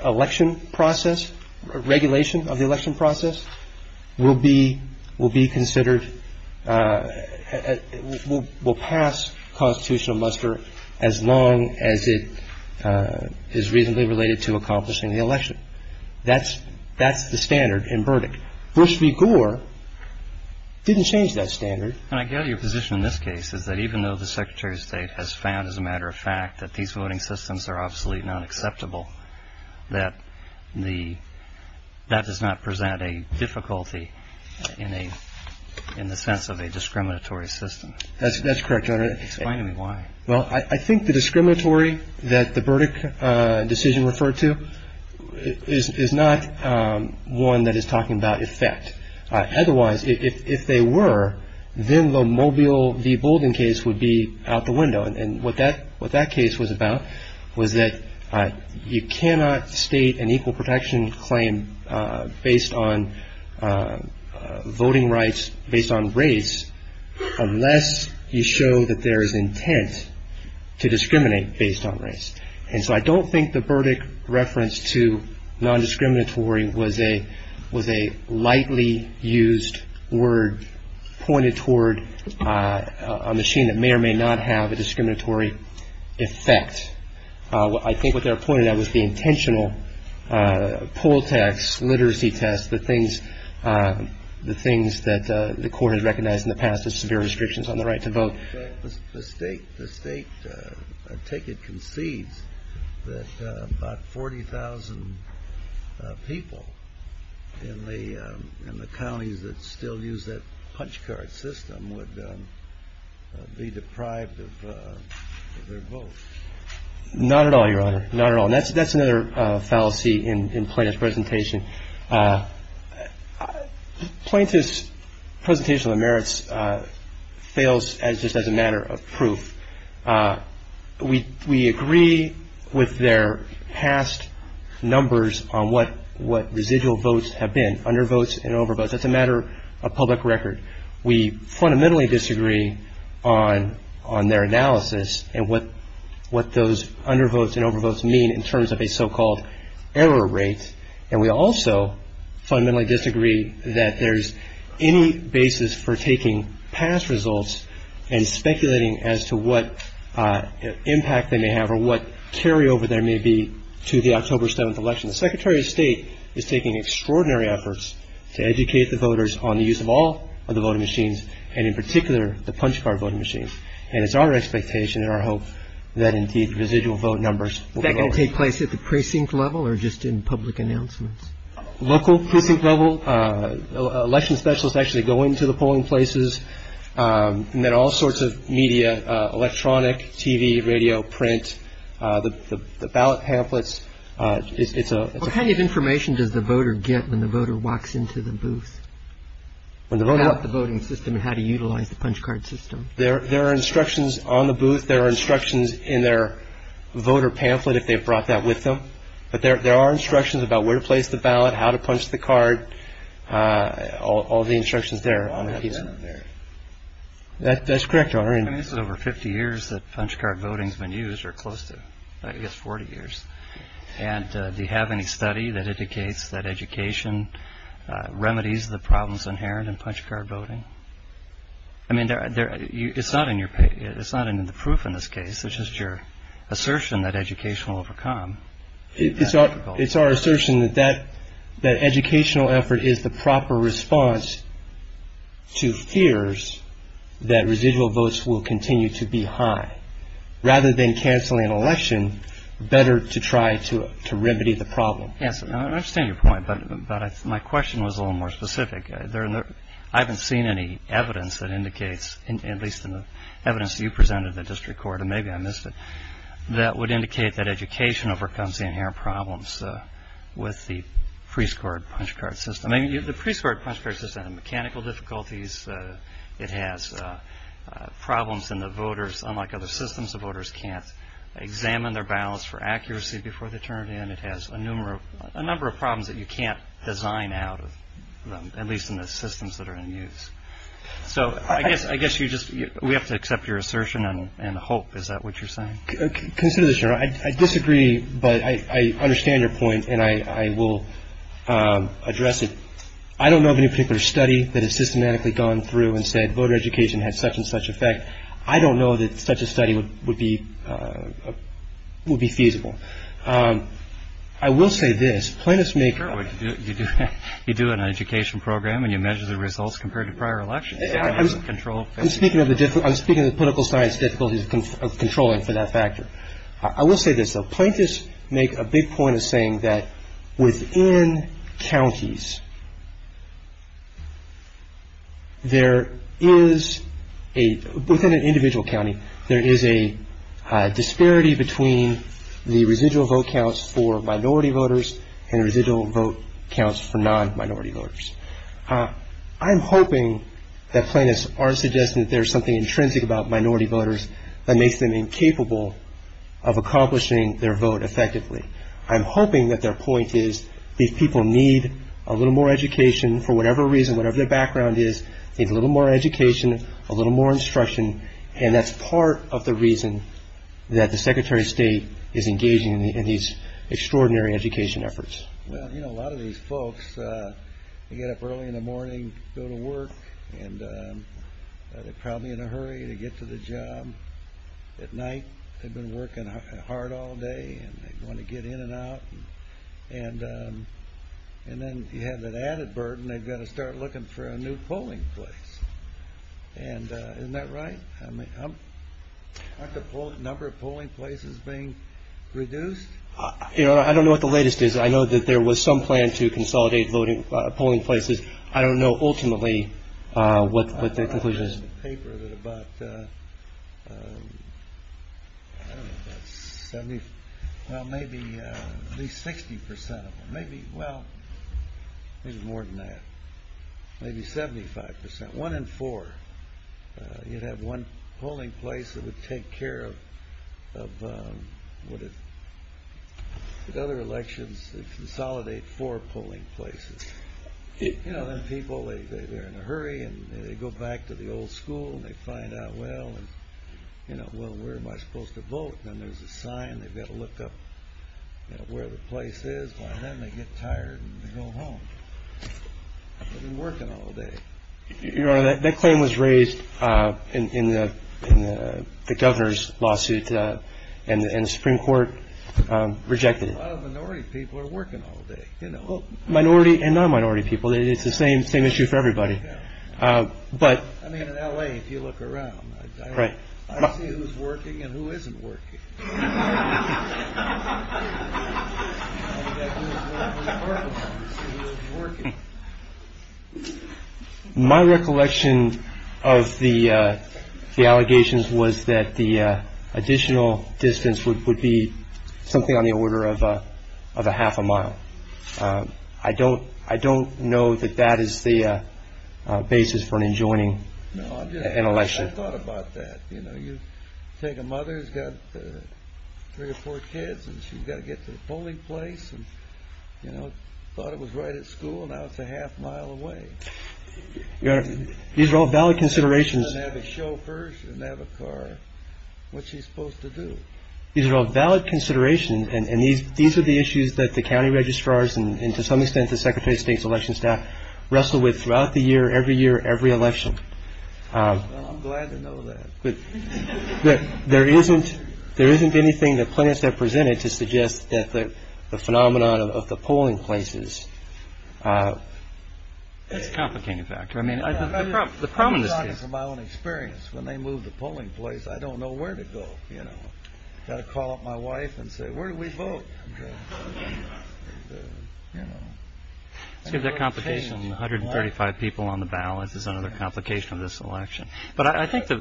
election process, regulation of the election process, will be considered, will pass constitutional muster as long as it is reasonably related to accomplishing the election. That's the standard in verdict. Bush v. Gore didn't change that standard. And I gather your position in this case is that even though the Secretary of State has found, as a matter of fact, that these voting systems are absolutely not acceptable, that that does not present a difficulty in the sense of a discriminatory system. That's correct, Your Honor. Explain to me why. Well, I think the discriminatory that the verdict decision referred to is not one that is talking about effect. Otherwise, if they were, then the Mobile v. Bolden case would be out the window. And what that case was about was that you cannot state an equal protection claim based on voting rights, based on race, unless you show that there is intent to discriminate based on race. And so I don't think the verdict reference to non-discriminatory was a lightly used word pointed toward a machine that may or may not have a discriminatory effect. I think what they were pointing at was the intentional poll tax, literacy test, the things that the court has recognized in the past as severe restrictions on the right to vote. The State ticket concedes that about 40,000 people in the counties that still use that punch card system would be deprived of their votes. Not at all, Your Honor. Not at all. And that's another fallacy in Plaintiff's presentation. Plaintiff's presentation of the merits fails just as a matter of proof. We agree with their past numbers on what residual votes have been, undervotes and overvotes. It's a matter of public record. We fundamentally disagree on their analysis and what those undervotes and overvotes mean in terms of a so-called error rate. And we also fundamentally disagree that there's any basis for taking past results and speculating as to what impact they may have or what carryover there may be to the October 7th election. The Secretary of State is taking extraordinary efforts to educate the voters on the use of all of the voting machines and in particular the punch card voting machines. And it's our expectation and our hope that indeed residual vote numbers will be lowered. Any place at the precinct level or just in public announcements? Local precinct level. Election specialists actually go into the polling places. And there are all sorts of media, electronic, TV, radio, print, the ballot pamphlets. What kind of information does the voter get when the voter walks into the booth? About the voting system and how to utilize the punch card system. There are instructions on the booth. There are instructions in their voter pamphlet if they brought that with them. But there are instructions about where to place the ballot, how to punch the card. All the instructions there. That's correct, Your Honor. This is over 50 years that punch card voting has been used or close to, I guess, 40 years. And do you have any study that educates that education remedies the problems inherent in punch card voting? I mean, it's not in the proof in this case. It's just your assertion that education will overcome. It's our assertion that educational effort is the proper response to fears that residual votes will continue to be high. Rather than canceling an election, better to try to remedy the problem. I understand your point, but my question was a little more specific. I haven't seen any evidence that indicates, at least in the evidence you presented in the district court, and maybe I missed it, that would indicate that education overcomes the inherent problems with the pre-scored punch card system. The pre-scored punch card system has mechanical difficulties. It has problems in the voters. Unlike other systems, the voters can't examine their ballots for accuracy before they turn it in. And it has a number of problems that you can't design out, at least in the systems that are in use. So I guess we have to accept your assertion and hope. Is that what you're saying? I disagree, but I understand your point, and I will address it. I don't know of any particular study that has systematically gone through and said voter education has such and such effect. I don't know that such a study would be feasible. I will say this. You do an education program and you measure the results compared to prior elections. I'm speaking of the political science difficulties of controlling for that factor. I will say this, though. Plaintiffs make a big point of saying that within counties, there is a, within an individual county, there is a disparity between the residual vote counts for minority voters and residual vote counts for non-minority voters. I'm hoping that plaintiffs are suggesting that there is something intrinsic about minority voters that makes them incapable of accomplishing their vote effectively. I'm hoping that their point is these people need a little more education for whatever reason, whatever their background is, they need a little more education, a little more instruction, and that's part of the reason that the Secretary of State is engaging in these extraordinary education efforts. Well, you know, a lot of these folks get up early in the morning, go to work, and they're probably in a hurry to get to the job at night. They've been working hard all day and they want to get in and out. And then if you have an added burden, they've got to start looking for a new polling place. And isn't that right? Aren't the number of polling places being reduced? You know, I don't know what the latest is. I know that there was some plan to consolidate polling places. I don't know ultimately what the conclusion is. I read a paper that about, I don't know, 70, well, maybe at least 60 percent of them, maybe, well, maybe more than that, maybe 75 percent, one in four. You'd have one polling place that would take care of other elections that consolidate four polling places. You know, them people, they're in a hurry and they go back to the old school and they find out, well, where am I supposed to vote, and there's a sign, they've got to look up where the place is. And then they get tired and they go home. They've been working all day. That claim was raised in the governor's lawsuit and the Supreme Court rejected it. A lot of minority people are working all day. Minority and non-minority people. It's the same issue for everybody. I mean, in L.A., if you look around, I don't see who's working and who isn't working. My recollection of the allegations was that the additional distance would be something on the order of a half a mile. I don't I don't know that that is the basis for joining an election. I thought about that. You know, you take a mother who's got three or four kids and she's got to get to the polling place and, you know, thought it was right at school and now it's a half mile away. These are all valid considerations. And have a chauffeur and have a car. What's she supposed to do? These are all valid considerations, and these are the issues that the county registrars and to some extent the Secretary of State's election staff wrestle with throughout the year, every year, every election. I'm glad to know that. There isn't there isn't anything that plans have presented to suggest that the phenomenon of the polling places. Complicated factor. I mean, the problem is my own experience. When they move the polling place, I don't know where to go. You know, I call up my wife and say, where do we vote? It's a complication. One hundred thirty five people on the ballot is another complication of this election. But I think that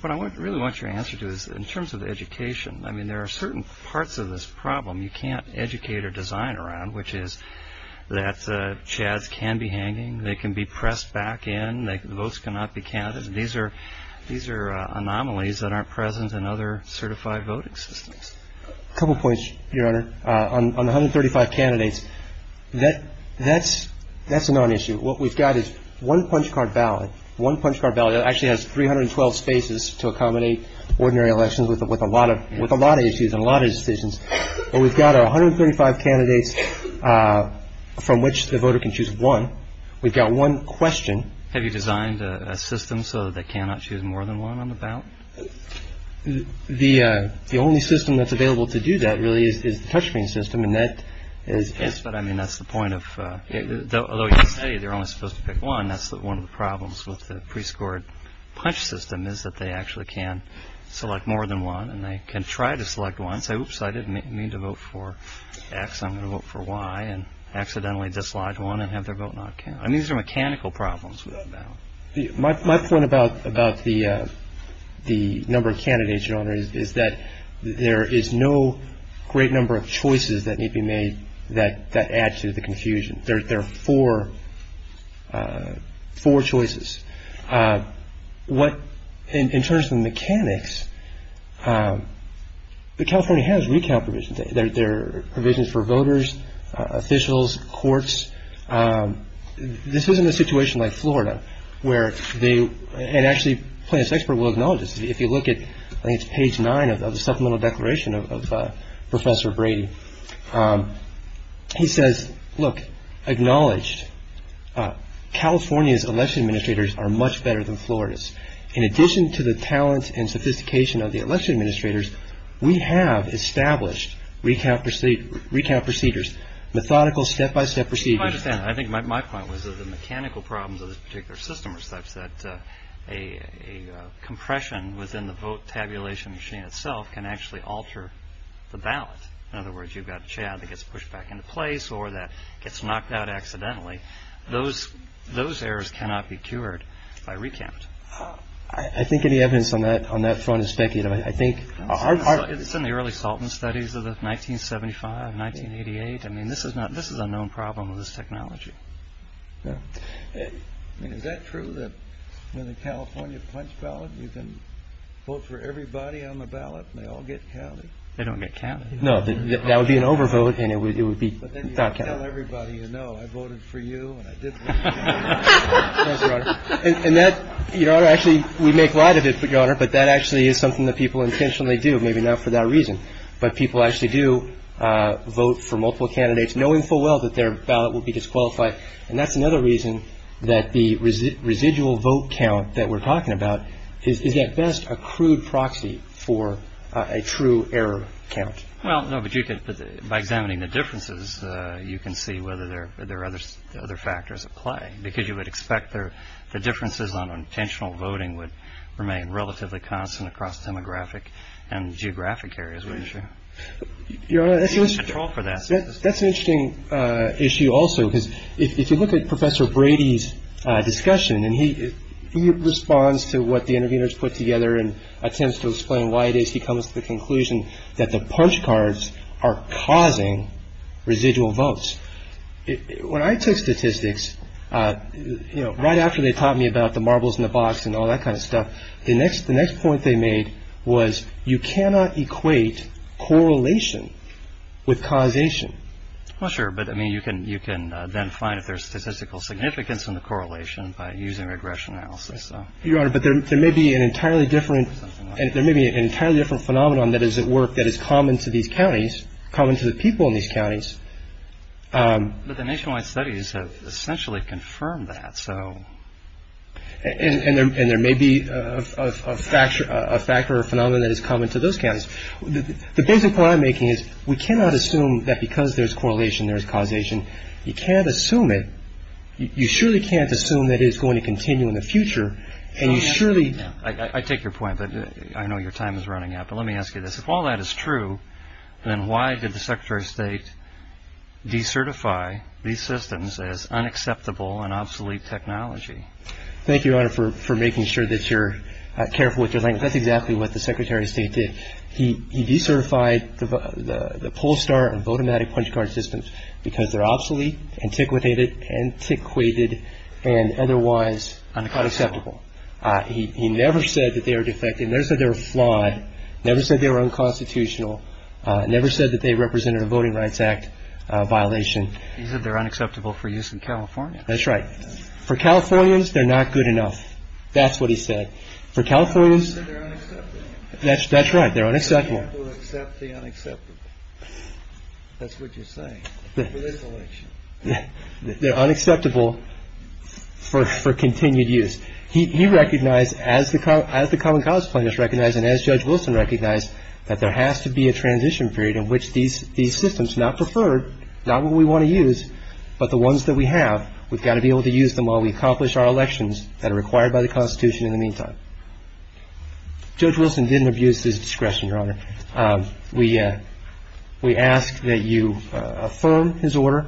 what I really want your answer to is in terms of education. I mean, there are certain parts of this problem you can't educate or design around, which is that chads can be hanging. They can be pressed back in. They can votes cannot be counted. These are these are anomalies that aren't present in other certified voting systems. Couple points. You're on one hundred thirty five candidates. That that's that's a known issue. What we've got is one punch card ballot, one punch card ballot actually has three hundred twelve spaces to accommodate ordinary elections. With a lot of with a lot of issues, a lot of decisions. We've got one hundred thirty five candidates from which the voter can choose one. We've got one question. Have you designed a system so they cannot choose more than one on the ballot? The the only system that's available to do that really is touch me system. And that is what I mean. That's the point of the study. They're only supposed to pick one. That's one of the problems with the pre-scored punch system is that they actually can select more than one and they can try to select one. So I didn't mean to vote for X. I'm going to vote for Y and accidentally dislodge one and have their vote. I mean, these are mechanical problems. My point about about the the number of candidates is that there is no great number of choices that need to be made. That that adds to the confusion. There are four four choices. What in terms of mechanics, the California has recount provision. There are provisions for voters, officials, courts. This isn't a situation like Florida where they and actually plans expert will acknowledge this. If you look at page nine of the supplemental declaration of Professor Brady, he says, look, acknowledge California's election administrators are much better than Florida's. In addition to the talent and sophistication of the election administrators. We have established we can't proceed. We can't procedures. Methodical step by step procedure. I think my point was that the mechanical problems of this particular system are such that a compression within the vote tabulation machine itself can actually alter the balance. In other words, you've got Chad that gets pushed back into place or that gets knocked out accidentally. Those those errors cannot be cured by recount. I think any evidence on that on that front is speculative. I think it's in the early Salton studies of 1975, 1988. I mean, this is not this is a known problem. This technology. Is that true that in the California punch ballot, you can vote for everybody on the ballot. They all get counted. They don't get counted. No, that would be an overvote. And it would be everybody, you know, I voted for you. And that, you know, actually, we make light of it for your honor. But that actually is something that people intentionally do. Maybe not for that reason, but people actually do vote for multiple candidates, knowing full well that their ballot will be disqualified. And that's another reason that the residual vote count that we're talking about is at best a crude proxy for a true error count. Well, no, but you get back down in the differences. You can see whether there are other other factors apply because you would expect there. The differences on intentional voting would remain relatively constant across demographic and geographic areas. Wouldn't you? That's an interesting issue. Also, if you look at Professor Brady's discussion and he responds to what the interviewers put together and attempts to explain why it is. He comes to the conclusion that the punch cards are causing residual votes. When I took statistics, you know, right after they taught me about the marbles in the box and all that kind of stuff. The next the next point they made was you cannot equate correlation with causation. Well, sure. But I mean, you can you can then find if there's statistical significance in the correlation by using regression analysis. You are. But there may be an entirely different. There may be an entirely different phenomenon that is at work that is common to the counties, common to the people in these counties. But the nationwide studies have essentially confirmed that. So and there may be a factor, a factor, a phenomenon that is common to those guys. The basic point I'm making is we cannot assume that because there's correlation, there's causation. You can't assume it. You surely can't assume that is going to continue in the future. And you surely I take your point that I know your time is running out. But let me ask you this. If all that is true, then why did the secretary of state decertify these systems as unacceptable and obsolete technology? Thank you for making sure that you're careful with your life. That's exactly what the secretary of state did. He decertified the pollster of automatic punch card systems because they're absolutely antiquated and antiquated and otherwise unacceptable. He never said that they are defective. They said they were flawed. Never said they were unconstitutional. Never said that they represented a Voting Rights Act violation. They're unacceptable for use in California. That's right. For Californians, they're not good enough. That's what he said. For Californians, that's that's right. They're unacceptable. That's what you say. They're unacceptable for continued use. He recognized as the crowd as the common cause players recognize and as Judge Wilson recognized that there has to be a transition period in which these these systems not preferred. Not what we want to use, but the ones that we have, we've got to be able to use them while we accomplish our elections that are required by the Constitution in the meantime. Judge Wilson didn't abuse his discretion, Your Honor. We we ask that you affirm his order.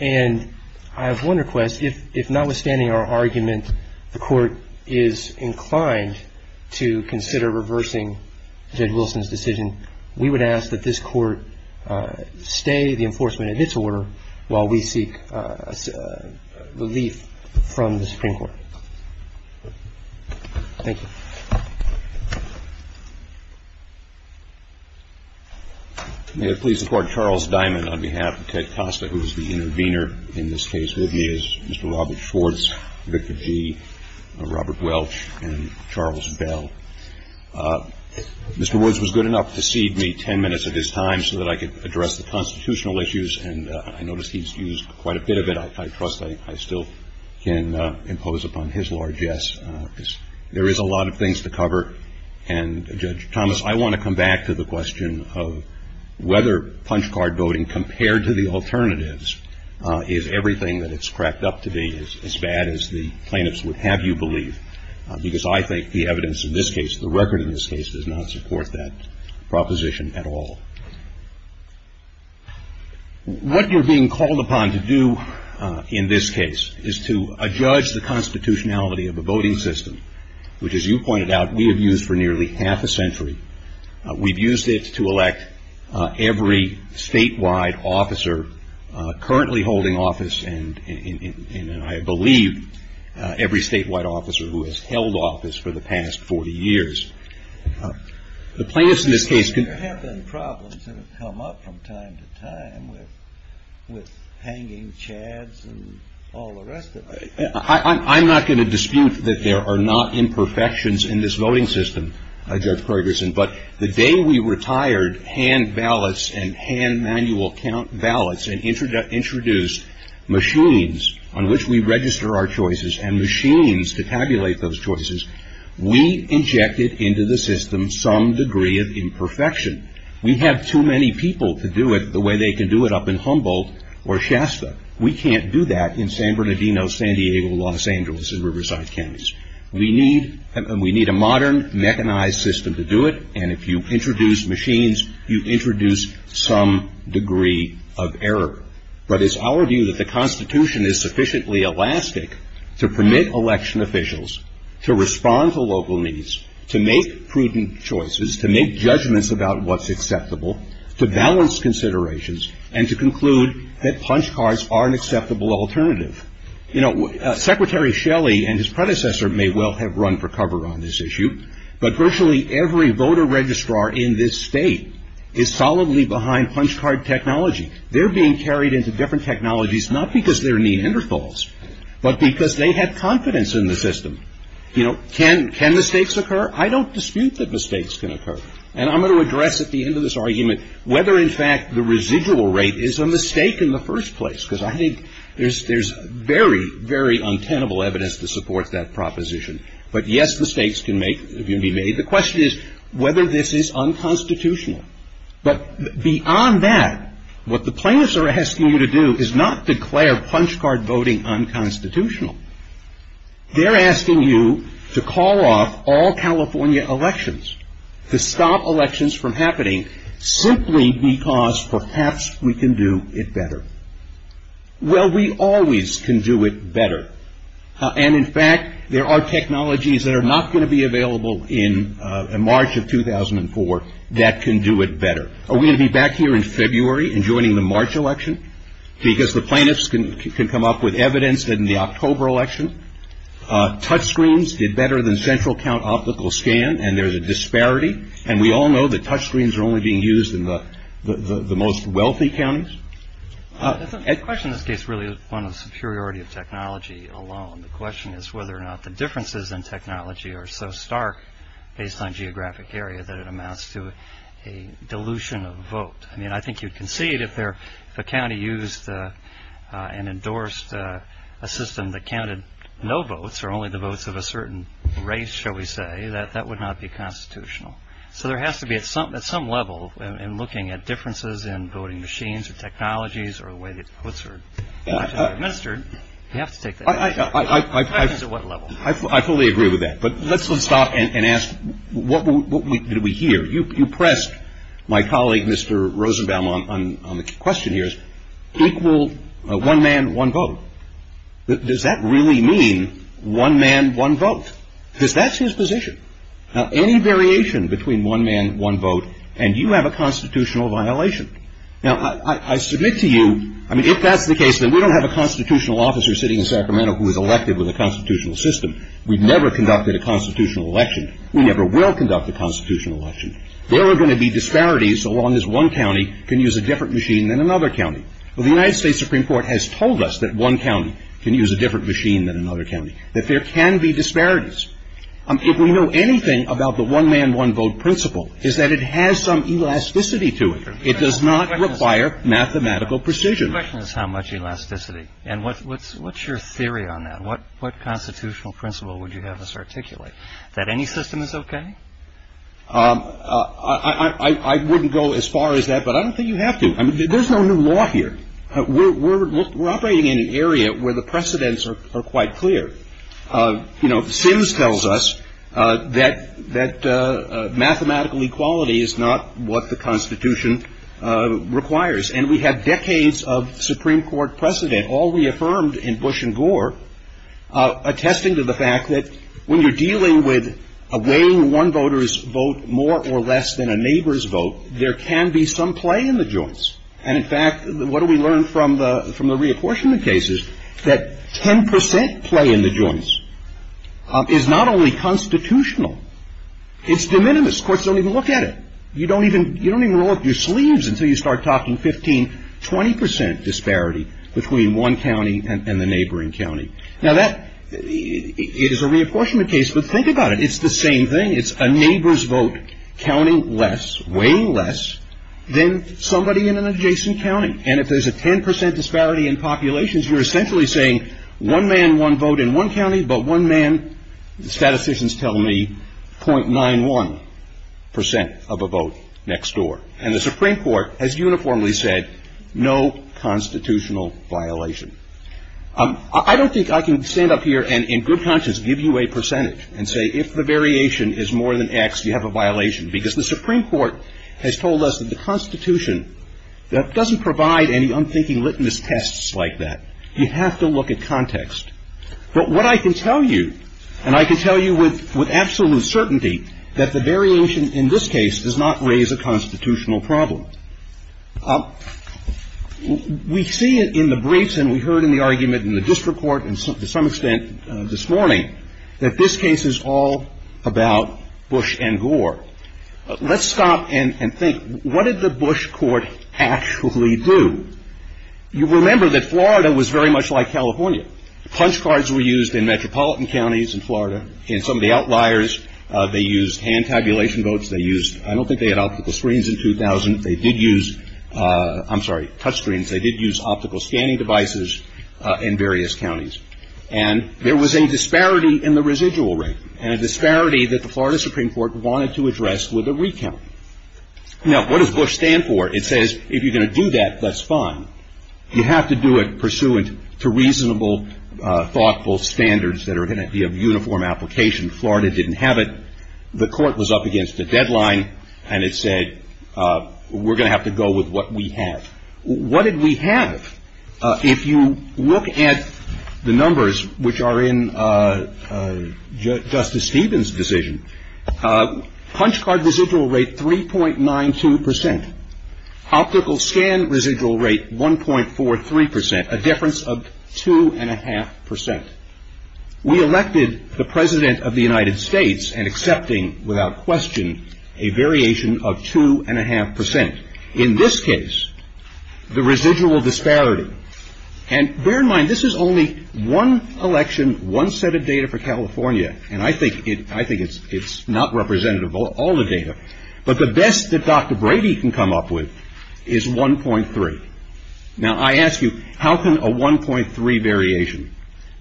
And I have one request. If notwithstanding our argument, the court is inclined to consider reversing Judge Wilson's decision. We would ask that this court stay the enforcement of his order while we seek relief from the Supreme Court. Thank you. May I please support Charles Diamond on behalf of Ted Costa, who is the intervener in this case with me as Mr. Robert Schwartz, Victor G., Robert Welch and Charles Bell. Mr. Woods was good enough to cede me 10 minutes of his time so that I could address the constitutional issues. And I noticed he's used quite a bit of it. I trust I still can impose upon his largesse. There is a lot of things to cover. And, Judge Thomas, I want to come back to the question of whether punch card voting compared to the alternatives is everything that it's cracked up to be as bad as the plaintiffs would have you believe. Because I think the evidence in this case, the record in this case, does not support that proposition at all. What you're being called upon to do in this case is to judge the constitutionality of the voting system, which, as you pointed out, we have used for nearly half a century. We've used it to elect every statewide officer currently holding office and, I believe, every statewide officer who has held office for the past 40 years. The plaintiffs in this case could... We have had problems that have come up from time to time with hanging chads and all the rest of it. I'm not going to dispute that there are not imperfections in this voting system, Judge Ferguson. But the day we retired hand ballots and hand manual count ballots and introduced machines on which we register our choices and machines to tabulate those choices, we injected into the system some degree of imperfection. We have too many people to do it the way they could do it up in Humboldt or Shasta. We can't do that in San Bernardino, San Diego, Los Angeles, and Riverside counties. We need a modern, mechanized system to do it, and if you introduce machines, you introduce some degree of error. But it's our view that the constitution is sufficiently elastic to permit election officials to respond to local needs, to make prudent choices, to make judgments about what's acceptable, to balance considerations, and to conclude that punch cards are an acceptable alternative. Secretary Shelley and his predecessor may well have run for cover on this issue, but virtually every voter registrar in this state is solidly behind punch card technology. They're being carried into different technologies not because there are neat interfalls, but because they have confidence in the system. Can mistakes occur? I don't dispute that mistakes can occur, and I'm going to address at the end of this argument whether in fact the residual rate is a mistake in the first place. Because I think there's very, very untenable evidence to support that proposition. But yes, mistakes can be made. The question is whether this is unconstitutional. But beyond that, what the planners are asking you to do is not declare punch card voting unconstitutional. They're asking you to call off all California elections, to stop elections from happening, simply because perhaps we can do it better. Well, we always can do it better. And in fact, there are technologies that are not going to be available in March of 2004 that can do it better. Are we going to be back here in February and joining the March election? Because the planners can come up with evidence in the October election. Touch screens did better than central count optical scan, and there's a disparity. And we all know that touch screens are only being used in the most wealthy counties. The question in this case really is one of the superiority of technology alone. The question is whether or not the differences in technology are so stark based on geographic area that it amounts to a dilution of vote. I mean, I think you can see that if a county used and endorsed a system that counted no votes or only the votes of a certain race, shall we say, that would not be constitutional. So there has to be at some level in looking at differences in voting machines or technologies or the way that it's administered. I fully agree with that. But let's stop and ask, what did we hear? You pressed my colleague, Mr. Rosenbaum, on the question here, equal one man, one vote. Does that really mean one man, one vote? Because that's his position. Any variation between one man, one vote, and you have a constitutional violation. Now, I submit to you, I mean, if that's the case, then we don't have a constitutional officer sitting in Sacramento who is elected with a constitutional system. We've never conducted a constitutional election. We never will conduct a constitutional election. There are going to be disparities so long as one county can use a different machine than another county. Well, the United States Supreme Court has told us that one county can use a different machine than another county, that there can be disparities. If we know anything about the one man, one vote principle, it's that it has some elasticity to it. It does not require mathematical precision. The question is how much elasticity. And what's your theory on that? What constitutional principle would you have us articulate? That any system is okay? I wouldn't go as far as that, but I don't think you have to. There's no new law here. We're operating in an area where the precedents are quite clear. You know, Sims tells us that mathematical equality is not what the Constitution requires. And we have decades of Supreme Court precedent, all reaffirmed in Bush and Gore, attesting to the fact that when you're dealing with weighing one voter's vote more or less than a neighbor's vote, there can be some play in the joints. And, in fact, what do we learn from the reapportionment cases? That 10% play in the joints is not only constitutional. It's de minimis. Courts don't even look at it. You don't even roll up your sleeves until you start talking 15, 20% disparity between one county and the neighboring county. Now, that is a reapportionment case, but think about it. It's the same thing. It's a neighbor's vote counting less, weighing less, than somebody in an adjacent county. And if there's a 10% disparity in populations, you're essentially saying one man, one vote in one county, but one man, statisticians tell me, .91% of a vote next door. And the Supreme Court has uniformly said no constitutional violation. I don't think I can stand up here and, in good conscience, give you a percentage and say, if the variation is more than X, you have a violation, because the Supreme Court has told us that the Constitution doesn't provide any unthinking litmus tests like that. You have to look at context. But what I can tell you, and I can tell you with absolute certainty, that the variation in this case does not raise a constitutional problem. We see it in the briefs, and we heard in the argument in the district court, and to some extent this morning, that this case is all about Bush and Gore. Let's stop and think. What did the Bush court actually do? You remember that Florida was very much like California. Punch cards were used in metropolitan counties in Florida. In some of the outliers, they used hand tabulation votes. They used, I don't think they had optical screens in 2000. They did use, I'm sorry, touch screens. They did use optical scanning devices in various counties. And there was a disparity in the residual rate, and a disparity that the Florida Supreme Court wanted to address with a recount. Now, what does Bush stand for? It says, if you're going to do that, that's fine. You have to do it pursuant to reasonable, thoughtful standards that are going to be of uniform application. Florida didn't have it. The court was up against the deadline, and it said, we're going to have to go with what we have. What did we have? If you look at the numbers, which are in Justice Stevens' decision, punch card residual rate 3.92 percent. Optical scan residual rate 1.43 percent, a difference of 2.5 percent. We elected the President of the United States and accepting, without question, a variation of 2.5 percent. In this case, the residual disparity. And bear in mind, this is only one election, one set of data for California. And I think it's not representative of all the data. But the best that Dr. Brady can come up with is 1.3. Now, I ask you, how can a 1.3 variation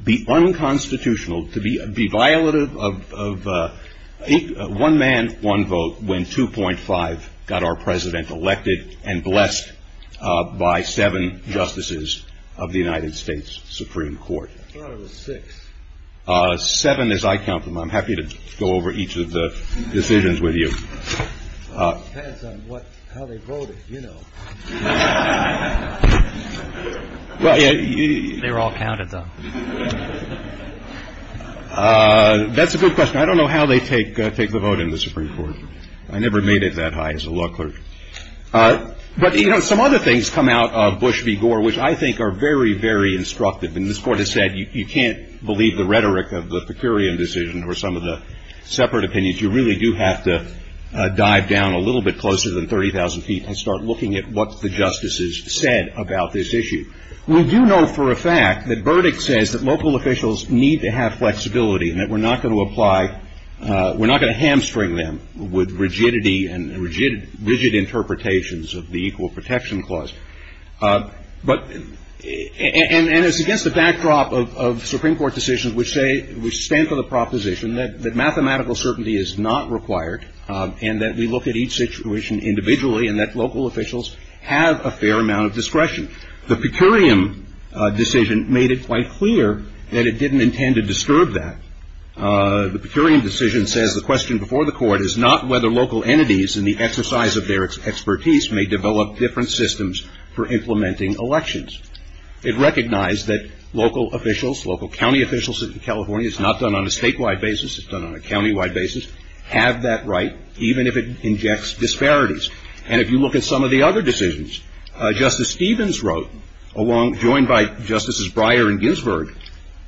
be unconstitutional, to be violative of one man, one vote, when 2.5 got our President elected and blessed by seven justices of the United States Supreme Court? There were six. Seven as I count them. I'm happy to go over each of the decisions with you. How they voted, you know. They were all counted, though. That's a good question. I don't know how they take the vote in the Supreme Court. I never made it that high as a law clerk. But, you know, some other things come out of Bush v. Gore, which I think are very, very instructive. And this Court has said you can't believe the rhetoric of the Pecurian decision or some of the separate opinions. You really do have to dive down a little bit closer than 30,000 feet and start looking at what the justices said about this issue. We do know for a fact that Verdict says that local officials need to have flexibility, and that we're not going to apply, we're not going to hamstring them with rigidity and rigid interpretations of the Equal Protection Clause. But, and it's against the backdrop of Supreme Court decisions which say, which stand for the proposition that mathematical certainty is not required and that we look at each situation individually and that local officials have a fair amount of discretion. The Pecurian decision made it quite clear that it didn't intend to disturb that. The Pecurian decision says the question before the Court is not whether local entities in the exercise of their expertise may develop different systems for implementing elections. It recognized that local officials, local county officials in California, it's not done on a statewide basis, it's done on a county-wide basis, have that right even if it injects disparities. And if you look at some of the other decisions, Justice Stevens wrote, joined by Justices Breyer and Ginsburg,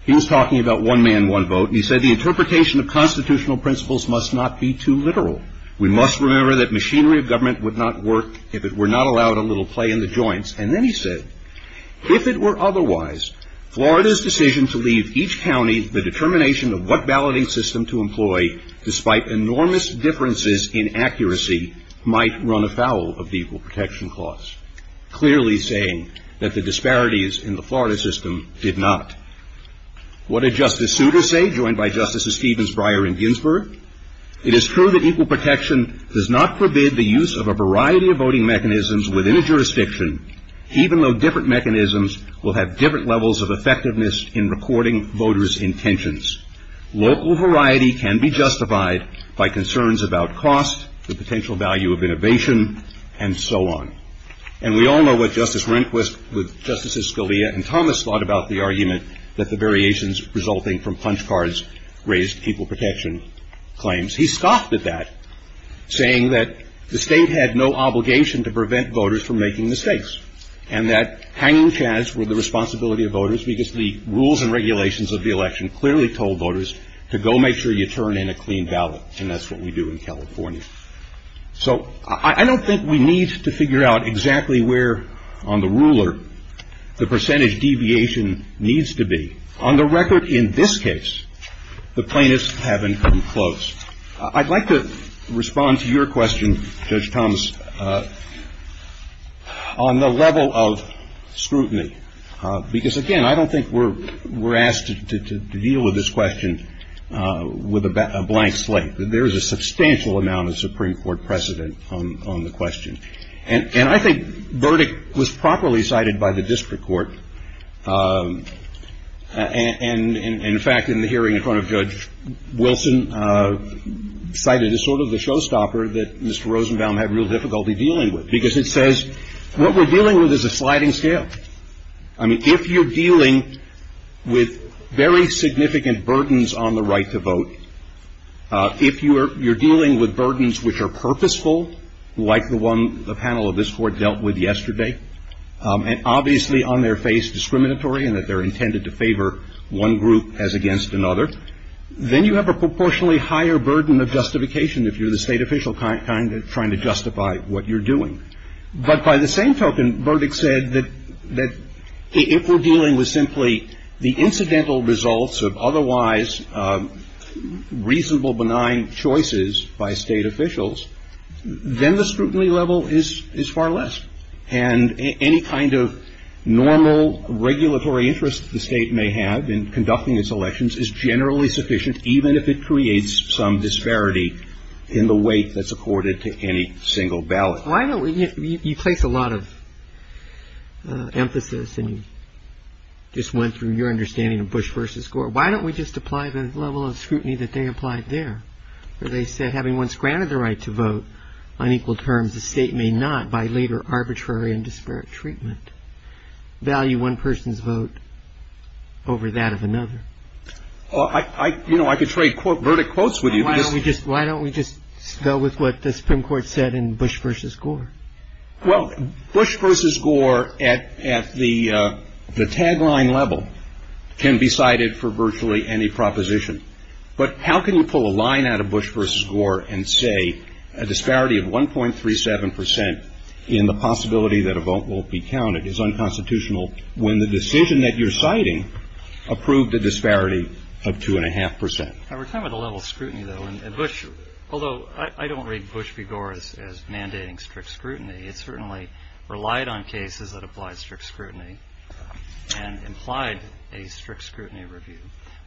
he was talking about one man, one vote, and he said the interpretation of constitutional principles must not be too literal. We must remember that machinery of government would not work if it were not allowed a little play in the joints. And then he said, if it were otherwise, Florida's decision to leave each county the determination of what balloting system to employ, despite enormous differences in accuracy, might run afoul of the equal protection clause, clearly saying that the disparities in the Florida system did not. What did Justice Souter say, joined by Justices Stevens, Breyer, and Ginsburg? It is true that equal protection does not forbid the use of a variety of voting mechanisms within a jurisdiction, even though different mechanisms will have different levels of effectiveness in recording voters' intentions. Local variety can be justified by concerns about cost, the potential value of innovation, and so on. And we all know what Justice Rehnquist, with Justices Scalia and Thomas, thought about the argument that the variations resulting from punch cards raised equal protection claims. He scoffed at that, saying that the state had no obligation to prevent voters from making mistakes, and that hanging chads were the responsibility of voters because the rules and regulations of the election clearly told voters to go make sure you turn in a clean ballot, and that's what we do in California. So, I don't think we need to figure out exactly where on the ruler the percentage deviation needs to be. On the record, in this case, the plaintiffs haven't come close. I'd like to respond to your question, Judge Thomas, on the level of scrutiny, because, again, I don't think we're asked to deal with this question with a blank slate. There is a substantial amount of Supreme Court precedent on the question. And I think the verdict was properly cited by the district court, and, in fact, in the hearing in front of Judge Wilson, cited as sort of a showstopper that Mr. Rosenbaum had real difficulty dealing with, because it says what we're dealing with is a sliding scale. I mean, if you're dealing with very significant burdens on the right to vote, if you're dealing with burdens which are purposeful, like the one the panel of this court dealt with yesterday, and obviously on their face discriminatory in that they're intended to favor one group as against another, then you have a proportionally higher burden of justification if you're the state official kind of trying to justify what you're doing. But by the same token, verdict said that if we're dealing with simply the incidental results of otherwise reasonable benign choices by state officials, then the scrutiny level is far less. And any kind of normal regulatory interest the state may have in conducting its elections is generally sufficient, even if it creates some disparity in the weight that's accorded to any single ballot. You place a lot of emphasis and just went through your understanding of Bush v. Gore. Why don't we just apply the level of scrutiny that they applied there, where they said having once granted the right to vote on equal terms, the state may not, by later arbitrary and disparate treatment, value one person's vote over that of another? You know, I could trade verdict quotes with you. Why don't we just go with what the Supreme Court said in Bush v. Gore? Well, Bush v. Gore at the tagline level can be cited for virtually any proposition. But how can you pull a line out of Bush v. Gore and say a disparity of 1.37 percent in the possibility that a vote won't be counted is unconstitutional when the decision that you're citing approved a disparity of 2.5 percent? Now, we're talking about the level of scrutiny, though, and Bush, although I don't read Bush v. Gore as mandating strict scrutiny. It certainly relied on cases that applied strict scrutiny and implied a strict scrutiny review.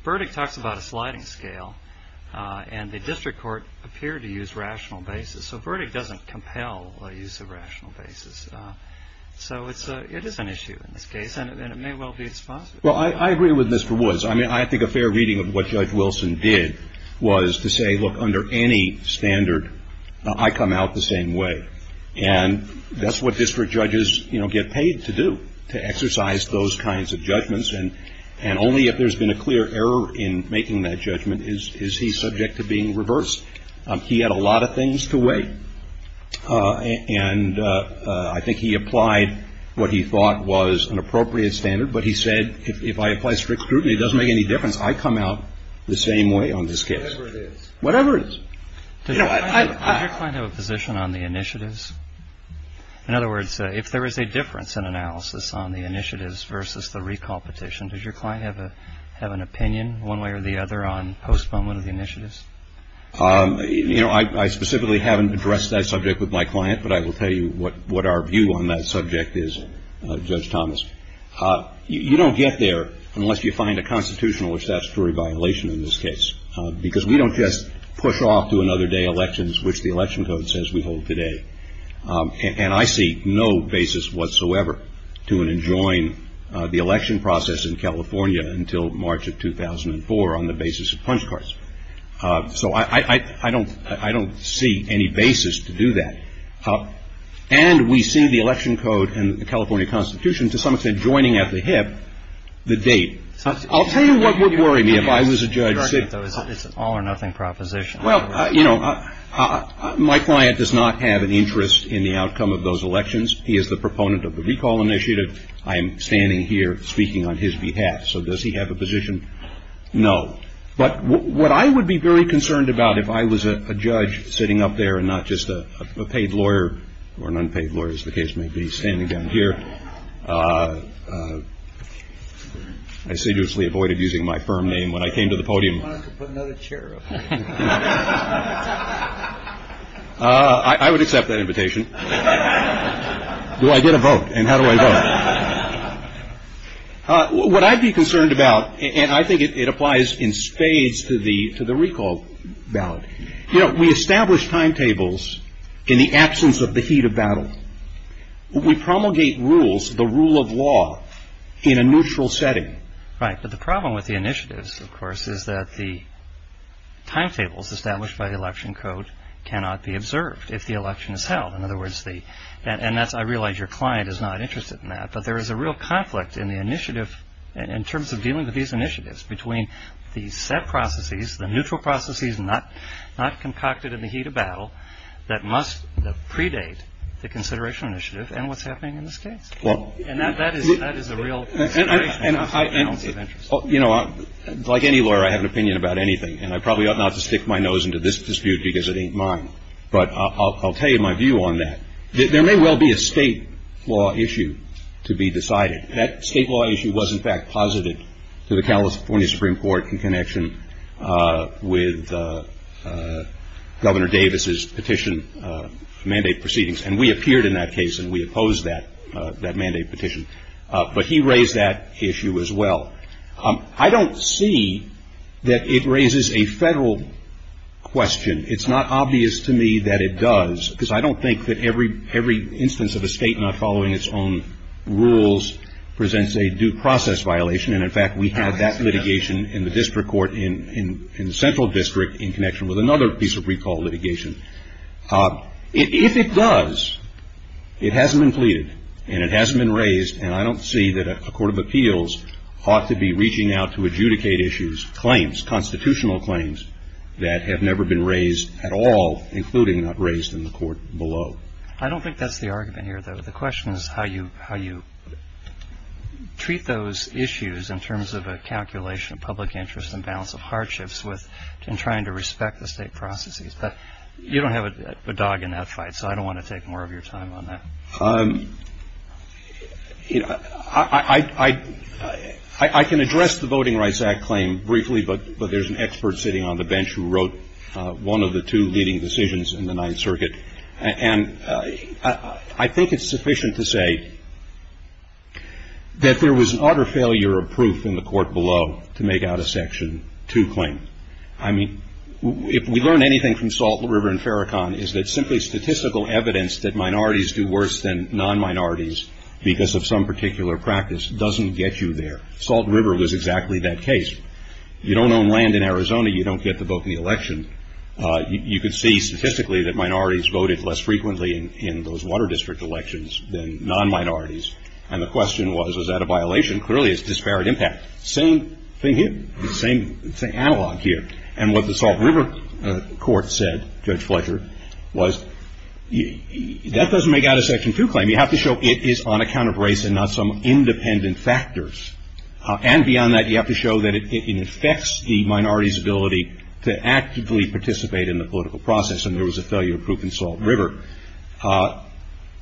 Verdict talks about a sliding scale, and the district court appeared to use rational basis. So verdict doesn't compel the use of rational basis. So it is an issue in this case, and it may well be explicit. Well, I agree with Mr. Woods. I mean, I think a fair reading of what Judge Wilson did was to say, look, under any standard, I come out the same way. And that's what district judges get paid to do, to exercise those kinds of judgments. And only if there's been a clear error in making that judgment is he subject to being reversed. He had a lot of things to weigh. And I think he applied what he thought was an appropriate standard. But he said, if I apply strict scrutiny, it doesn't make any difference. I come out the same way on this case. Whatever it is. Whatever it is. Does your client have a position on the initiatives? In other words, if there is a difference in analysis on the initiatives versus the recall petition, does your client have an opinion one way or the other on postponement of the initiatives? You know, I specifically haven't addressed that subject with my client, but I will tell you what our view on that subject is, Judge Thomas. You don't get there unless you find a constitutional or statutory violation in this case. Because we don't just push off to another day elections, which the election code says we hold today. And I see no basis whatsoever to enjoin the election process in California until March of 2004 on the basis of punch cards. So I don't see any basis to do that. And we see the election code and the California Constitution, to some extent, joining at the hip the date. I'll tell you what would worry me if I was a judge. It's an all or nothing proposition. Well, you know, my client does not have an interest in the outcome of those elections. He is the proponent of the recall initiative. I am standing here speaking on his behalf. So does he have a position? No. But what I would be very concerned about if I was a judge sitting up there and not just a paid lawyer or an unpaid lawyer, as the case may be, standing down here. I seriously avoided using my firm name when I came to the podium. I wanted to put another chair up. I would accept that invitation. Do I get a vote? And how do I vote? What I'd be concerned about, and I think it applies in spades to the recall ballot. You know, we establish timetables in the absence of the heat of battle. We promulgate rules, the rule of law, in a neutral setting. Right, but the problem with the initiatives, of course, is that the timetables established by the election code cannot be observed if the election is held. In other words, and I realize your client is not interested in that, but there is a real conflict in the initiative in terms of dealing with these initiatives between the set processes, the neutral processes not concocted in the heat of battle that must predate the consideration initiative and what's happening in this case. And that is a real conflict. You know, like any lawyer, I have an opinion about anything, and I probably ought not to stick my nose into this dispute because it ain't mine. But I'll tell you my view on that. There may well be a state law issue to be decided. That state law issue was, in fact, posited to the California Supreme Court in connection with Governor Davis' petition mandate proceedings. And we appeared in that case, and we opposed that mandate petition. But he raised that issue as well. I don't see that it raises a federal question. It's not obvious to me that it does because I don't think that every instance of a state not following its own rules presents a due process violation. And, in fact, we had that litigation in the district court in the central district in connection with another piece of recall litigation. If it does, it hasn't been pleaded, and it hasn't been raised, and I don't see that a court of appeals ought to be reaching out to adjudicate issues, claims, constitutional claims that have never been raised at all, including that raised in the court below. I don't think that's the argument here, though. The question is how you treat those issues in terms of a calculation of public interest and balance of hardships in trying to respect the state processes. But you don't have a dog in that fight, so I don't want to take more of your time on that. I can address the Voting Rights Act claim briefly, but there's an expert sitting on the bench who wrote one of the two leading decisions in the Ninth Circuit. And I think it's sufficient to say that there was an utter failure of proof in the court below to make out a Section 2 claim. If we learn anything from Salt River and Farrakhan, it's that simply statistical evidence that minorities do worse than non-minorities because of some particular practice doesn't get you there. Salt River was exactly that case. You don't own land in Arizona, you don't get to vote in the election. You could see statistically that minorities voted less frequently in those water district elections than non-minorities. And the question was, is that a violation? Clearly, it's disparate impact. Same thing here. Same analog here. And what the Salt River court said, Judge Fletcher, was that doesn't make out a Section 2 claim. You have to show it is on account of race and not some independent factors. And beyond that, you have to show that it infects the minority's ability to actively participate in the political process. And there was a failure of proof in Salt River.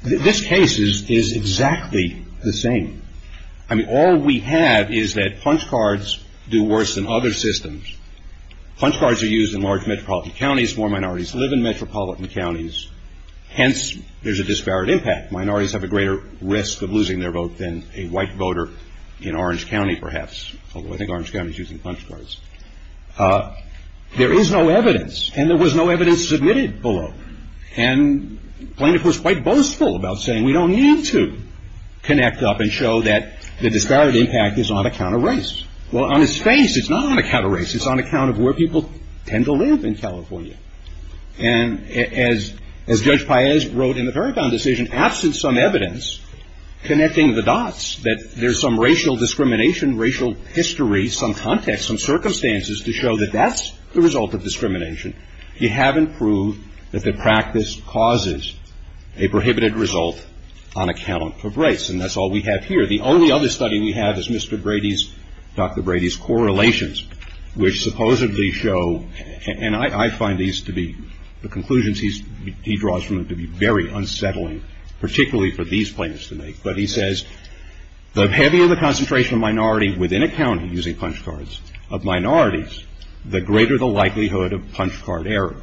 This case is exactly the same. I mean, all we have is that punch cards do worse than other systems. Punch cards are used in large metropolitan counties. More minorities live in metropolitan counties. Hence, there's a disparate impact. Minorities have a greater risk of losing their vote than a white voter in Orange County, perhaps. Although, I think Orange County is using punch cards. There is no evidence, and there was no evidence submitted below. And the plaintiff was quite boastful about saying, we don't need to connect up and show that the disparate impact is on account of race. Well, on its face, it's not on account of race. It's on account of where people tend to live in California. And as Judge Paez wrote in the Paragon decision, absent some evidence connecting the dots, that there's some racial discrimination, racial history, some context, some circumstances to show that that's the result of discrimination. You haven't proved that the practice causes a prohibited result on account of race. And that's all we have here. The only other study we have is Mr. Brady's, Dr. Brady's correlations, which supposedly show, and I find these to be, the conclusions he draws from them to be very unsettling, particularly for these plaintiffs to make. But he says, the heavier the concentration of minority within a county using punch cards, of minorities, the greater the likelihood of punch card error.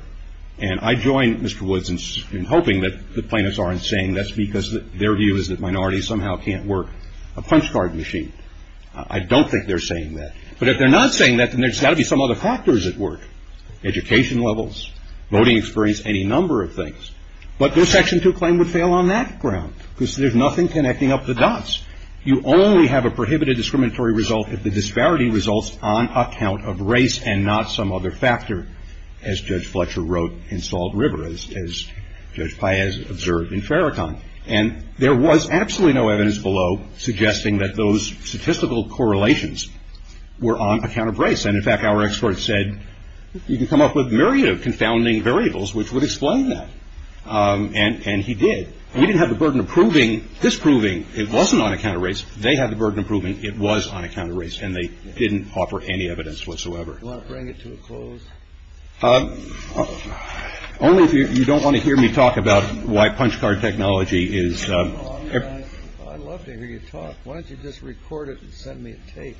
And I join Mr. Woods in hoping that the plaintiffs aren't saying that's because their view is that minorities somehow can't work a punch card machine. I don't think they're saying that. But if they're not saying that, then there's got to be some other factors at work. Education levels, voting experience, any number of things. But their Section 2 claim would fail on that ground, because there's nothing connecting up the dots. You only have a prohibited discriminatory result if the disparity results on account of race and not some other factor, as Judge Fletcher wrote in Salt River, as Judge Paez observed in Farrakhan. And there was absolutely no evidence below suggesting that those statistical correlations were on account of race. And in fact, our experts said, you can come up with myriad of confounding variables which would explain that. And he did. And he didn't have the burden of proving, disproving it wasn't on account of race. They had the burden of proving it was on account of race. And they didn't offer any evidence whatsoever. Do you want to bring it to a close? Only if you don't want to hear me talk about why punch card technology is... I'd love to hear you talk. Why don't you just record it and send me a tape?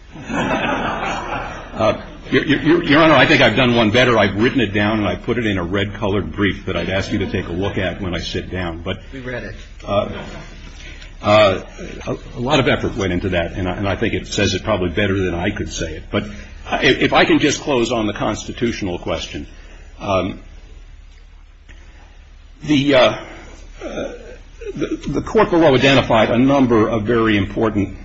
Your Honor, I think I've done one better. I've written it down, and I've put it in a red-colored brief that I'd ask you to take a look at when I sit down. We've read it. A lot of effort went into that, and I think it says it probably better than I could say it. But if I can just close on the constitutional question. The court below identified a number of very important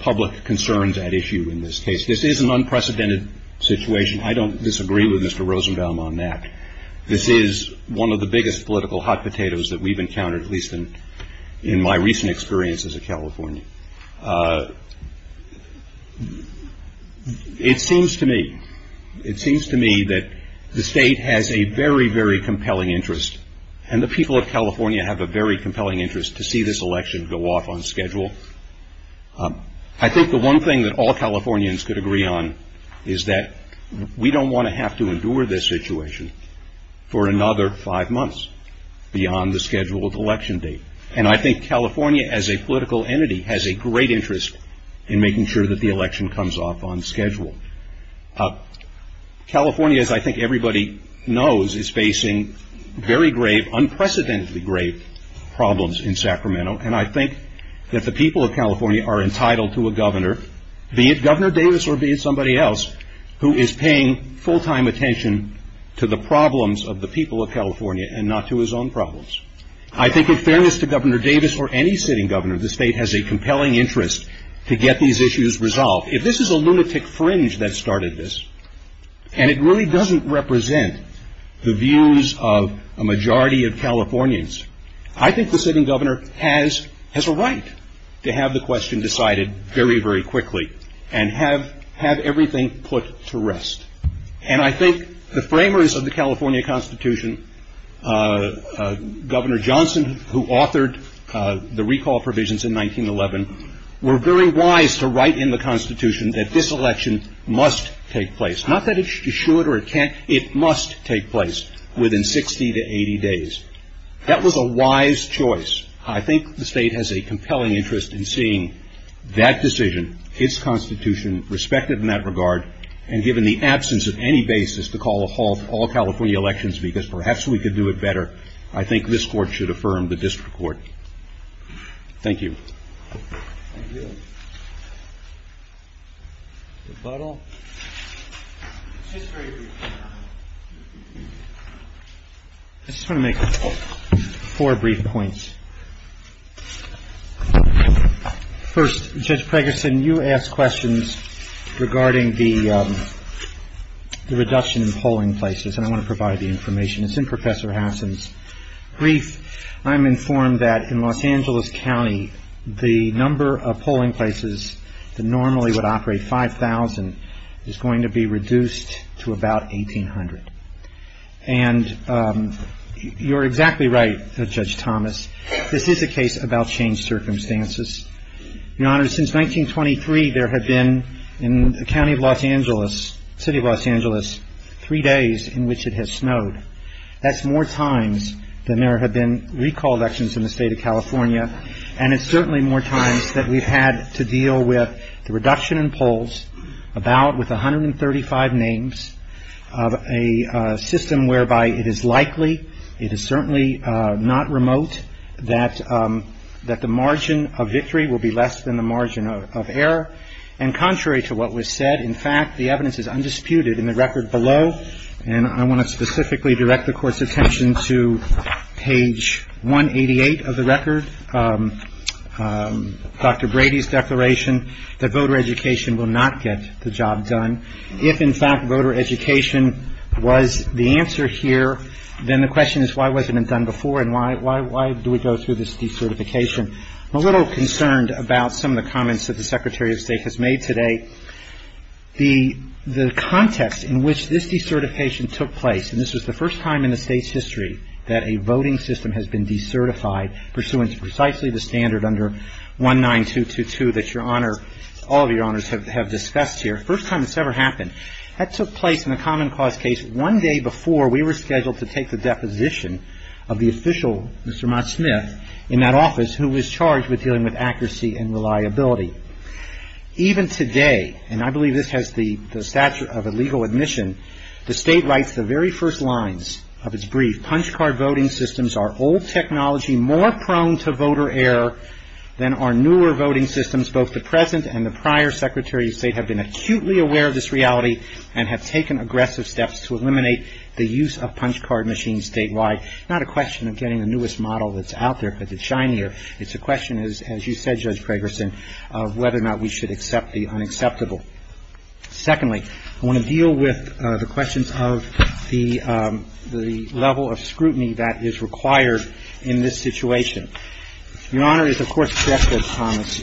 public concerns at issue in this case. This is an unprecedented situation. I don't disagree with Mr. Rosenbaum on that. This is one of the biggest political hot potatoes that we've encountered, at least in my recent experiences in California. It seems to me, it seems to me that the state has a very, very compelling interest, and the people of California have a very compelling interest to see this election go off on schedule. I think the one thing that all Californians could agree on is that we don't want to have to endure this situation for another five months beyond the schedule of election day. And I think California, as a political entity, has a great interest in making sure that the election comes off on schedule. California, as I think everybody knows, is facing very grave, unprecedentedly grave problems in Sacramento, and I think that the people of California are entitled to a governor, be it Governor Davis or be it somebody else, who is paying full-time attention to the problems of the people of California and not to his own problems. I think in fairness to Governor Davis or any sitting governor, the state has a compelling interest to get these issues resolved. If this is a lunatic fringe that started this, and it really doesn't represent the views of a majority of Californians, I think the sitting governor has a right to have the question decided very, very quickly and have everything put to rest. And I think the framers of the California Constitution, Governor Johnson, who authored the recall provisions in 1911, were very wise to write in the Constitution that this election must take place. Not that it should or it can't, it must take place within 60 to 80 days. That was a wise choice. I think the state has a compelling interest in seeing that decision, its Constitution, respected in that regard, and given the absence of any basis to call a halt to all California elections because perhaps we could do it better, I think this court should affirm the district court. Thank you. I just want to make four brief points. First, Judge Ferguson, you asked questions regarding the reduction in polling places, and I want to provide the information. It's in Professor Hasson's brief. I'm informed that in Los Angeles County, the number of polling places that normally would operate 5,000 is going to be reduced to about 1,800. And you're exactly right, Judge Thomas. This is a case about changed circumstances. Your Honor, since 1923, there have been, in the county of Los Angeles, city of Los Angeles, three days in which it has snowed. That's more times than there have been recall elections in the state of California, and it's certainly more times that we've had to deal with the reduction in polls, about with 135 names, a system whereby it is likely, it is certainly not remote, that the margin of victory will be less than the margin of error. And contrary to what was said, in fact, the evidence is undisputed in the record below, and I want to specifically direct the Court's attention to page 188 of the record, Dr. Brady's declaration, that voter education will not get the job done. If, in fact, voter education was the answer here, then the question is, why wasn't it done before, and why do we go through this decertification? I'm a little concerned about some of the comments that the Secretary of State has made today. The context in which this decertification took place, and this was the first time in the state's history that a voting system has been decertified pursuant to precisely the standard under 19222 that your Honor, all of your Honors have discussed here, first time it's ever happened, that took place in a common cause case one day before we were scheduled to take the deposition of the official, Mr. Mott Smith, in that office, who was charged with dealing with accuracy and reliability. Even today, and I believe this has the stature of a legal admission, the state writes the very first lines of its brief, punch card voting systems are old technology more prone to voter error than are newer voting systems. Both the present and the prior Secretary of State have been acutely aware of this reality and have taken aggressive steps to eliminate the use of punch card machines statewide. It's not a question of getting the newest model that's out there because it's shinier. It's a question, as you said, Judge Fragerson, of whether or not we should accept the unacceptable. Secondly, I want to deal with the question of the level of scrutiny that is required in this situation. Your Honor, as the Court said,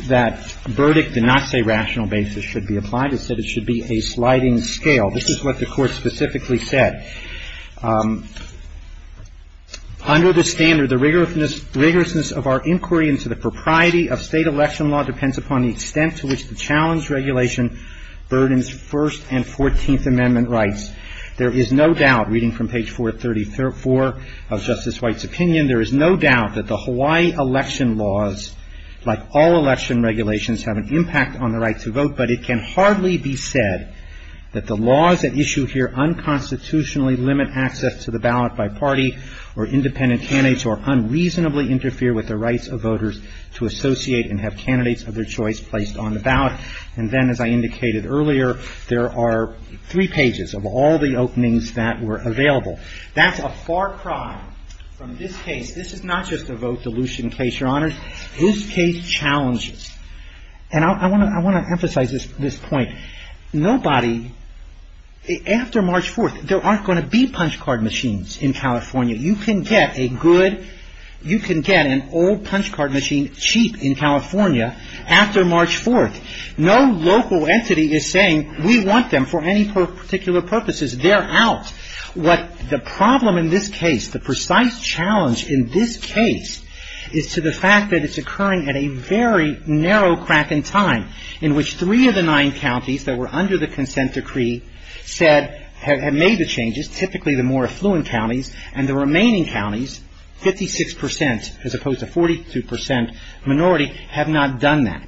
that verdict did not say rational basis should be applied. It said it should be a sliding scale. This is what the Court specifically said. Under the standard, the rigorousness of our inquiry into the propriety of state election law depends upon the extent to which the challenge regulation burdens First and Fourteenth Amendment rights. There is no doubt, reading from page 434 of Justice White's opinion, there is no doubt that the Hawaii election laws, like all election regulations, have an impact on the right to vote, but it can hardly be said that the laws at issue here unconstitutionally limit access to the ballot by party or independent candidates or unreasonably interfere with the rights of voters to associate and have candidates of their choice placed on the ballot. And then, as I indicated earlier, there are three pages of all the openings that were available. That's a far cry from this case. This is not just a vote solution case, Your Honor. This case challenges. And I want to emphasize this point. Nobody, after March 4th, there aren't going to be punch card machines in California. You can get a good, you can get an old punch card machine cheap in California after March 4th. No local entity is saying we want them for any particular purposes. They're out. But the problem in this case, the precise challenge in this case, is to the fact that it's occurring at a very narrow crack in time in which three of the nine counties that were under the consent decree said, have made the changes, typically the more affluent counties, and the remaining counties, 56%, as opposed to 42% minority, have not done that.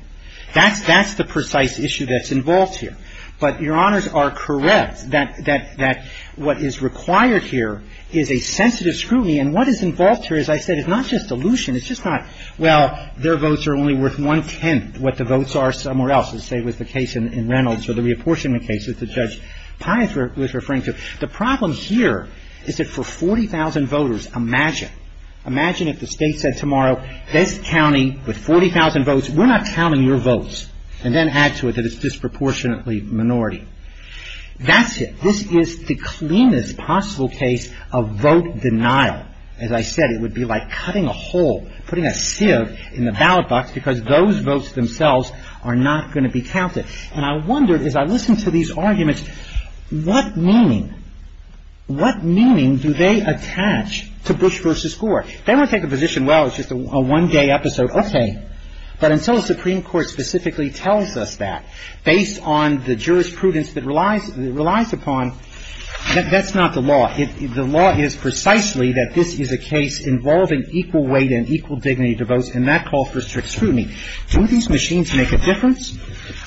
That's the precise issue that's involved here. But Your Honors are correct that what is required here is a sensitive scrutiny. And what is involved here, as I said, is not just a solution. It's just not, well, their votes are only worth one-tenth what the votes are somewhere else. Let's say with the case in Reynolds, or the reapportionment case that Judge Pye was referring to. The problem here is that for 40,000 voters, imagine, imagine if the state said tomorrow, this county with 40,000 votes, we're not counting your votes. And then add to it that it's disproportionately minority. That's it. This is the cleanest possible case of vote denial. Now, as I said, it would be like cutting a hole, putting a sieve in the ballot box, because those votes themselves are not going to be counted. And I wondered, as I listened to these arguments, what meaning, what meaning do they attach to Bush v. Gore? They don't take a position, well, it's just a one-day episode. Okay. But until the Supreme Court specifically tells us that, based on the jurisprudence that relies upon, that's not the law. The law is precisely that this is a case involving equal weight and equal dignity to vote, and that call for strict scrutiny. Don't these machines make a difference?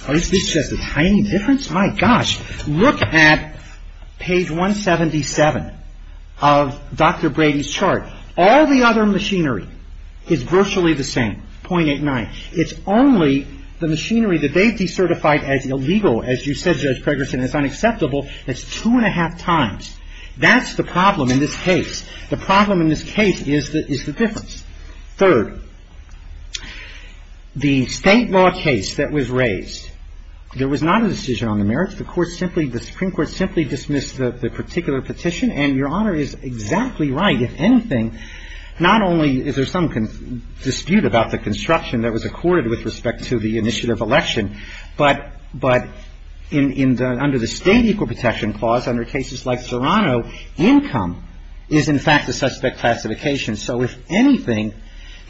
Or is this just a tiny difference? My gosh. Look at page 177 of Dr. Brady's chart. All the other machinery is virtually the same, .89. It's only the machinery that they've decertified as illegal, as you said, Judge Pregerson, and it's unacceptable that it's two and a half times. That's the problem in this case. The problem in this case is the difference. Third, the state law case that was raised, there was not a decision on the merits. The Supreme Court simply dismissed the particular petition, and Your Honor is exactly right. If anything, not only is there some dispute about the construction that was accorded with respect to the initiative election, but under the state equal protection clause, under cases like Serrano, income is, in fact, a suspect classification. So, if anything,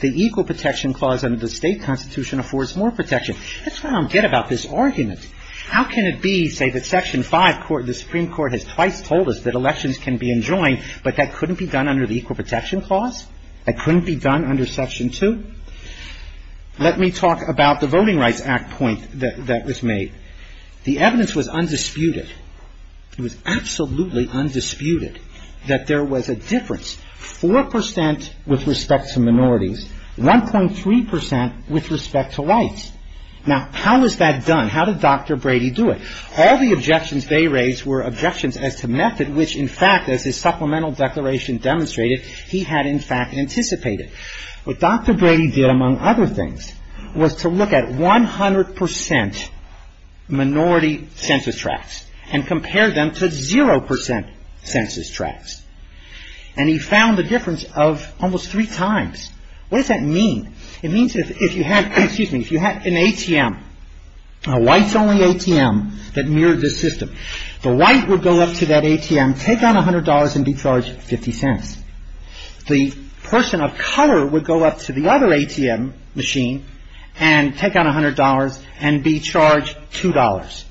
the equal protection clause under the state constitution affords more protection. That's where I'm good about this argument. How can it be, say, that Section 5, the Supreme Court has twice told us that elections can be enjoined, but that couldn't be done under the equal protection clause? That couldn't be done under Section 2? Let me talk about the Voting Rights Act point that was made. The evidence was undisputed. It was absolutely undisputed that there was a difference. 4% with respect to minorities, 1.3% with respect to whites. Now, how was that done? How did Dr. Brady do it? All the objections they raised were objections as to method, which, in fact, as his supplemental declaration demonstrated, he had, in fact, anticipated. What Dr. Brady did, among other things, was to look at 100% minority census tracts and compare them to 0% census tracts. And he found the difference of almost three times. What does that mean? It means if you have an ATM, a whites-only ATM that mirrored this system, the white would go up to that ATM, take out $100, and be charged 50 cents. The person of color would go up to the other ATM machine and take out $100 and be charged $2.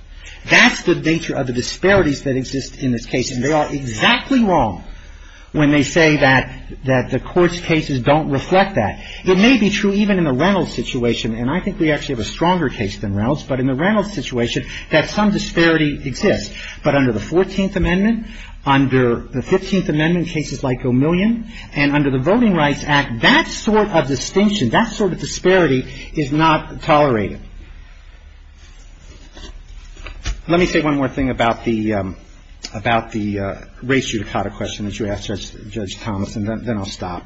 That's the nature of the disparities that exist in this case, and they are exactly wrong when they say that the court's cases don't reflect that. It may be true even in the Reynolds situation, and I think we actually have a stronger case than Reynolds, but in the Reynolds situation, that some disparity exists. But under the 14th Amendment, under the 15th Amendment, cases like O'Million, and under the Voting Rights Act, that sort of distinction, that sort of disparity, is not tolerated. Let me say one more thing about the racial dichotomy question that you asked Judge Thomas, and then I'll stop.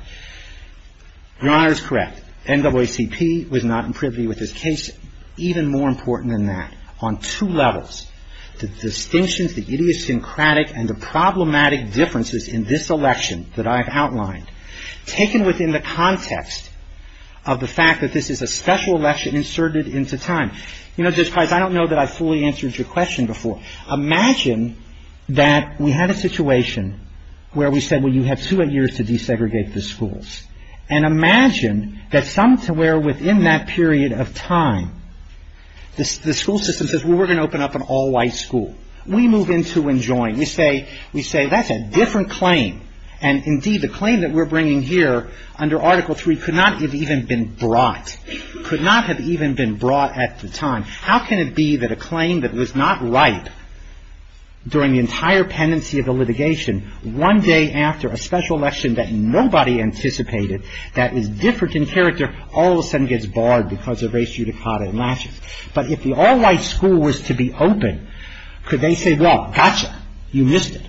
Your Honor is correct. NAACP was not in privy with this case. The racial dichotomy is even more important than that, on two levels. The distinction, the idiosyncratic, and the problematic differences in this election that I have outlined, taken within the context of the fact that this is a special election inserted into time. I don't know that I fully answered your question before. Imagine that we had a situation where we said, well, you have two years to desegregate the schools. And imagine that somewhere within that period of time, the school system says, well, we're going to open up an all-white school. We move into and join. We say, that's a different claim. And indeed, the claim that we're bringing here under Article III could not have even been brought. Could not have even been brought at the time. How can it be that a claim that was not right during the entire pendency of the litigation, one day after a special election that nobody anticipated, that was different in character, all of a sudden gets barred because of race judicata in Washington? But if the all-white school was to be open, could they say, well, gotcha, you missed it?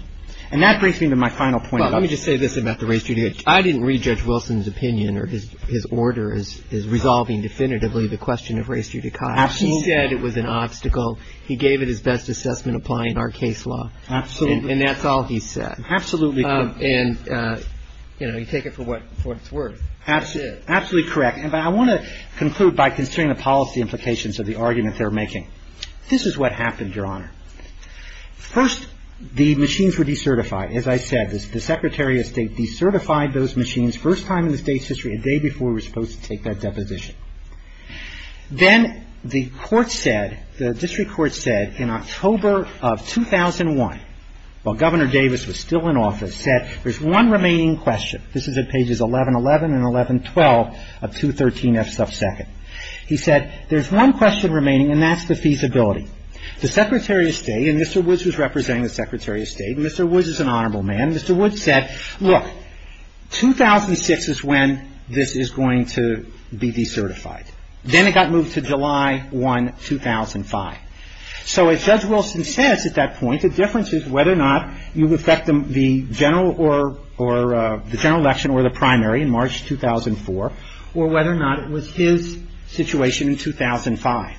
And that brings me to my final point. Let me just say this about the race judicata. I didn't re-judge Wilson's opinion or his order as resolving definitively the question of race judicata. He said it was an obstacle. He gave it his best assessment applying our case law. Absolutely. And that's all he said. Absolutely. And, you know, you take it for what it's worth. Absolutely. Absolutely correct. But I want to conclude by considering the policy implications of the argument they're making. This is what happened, Your Honor. First, the machines were decertified. As I said, the Secretary of State decertified those machines, first time in the state's history, a day before we were supposed to take that deposition. Then the court said, the district court said, in October of 2001, while Governor Davis was still in office, said there's one remaining question. This is at pages 1111 and 1112 of 213 F. Stuff Second. He said there's one question remaining, and that's the feasibility. The Secretary of State, and Mr. Woods was representing the Secretary of State, and Mr. Woods is an honorable man, and Mr. Woods said, look, 2006 is when this is going to be decertified. Then it got moved to July 1, 2005. So, as Judge Wilson said at that point, the difference is whether or not you affect the general election or the primary in March 2004, or whether or not it was his situation in 2005.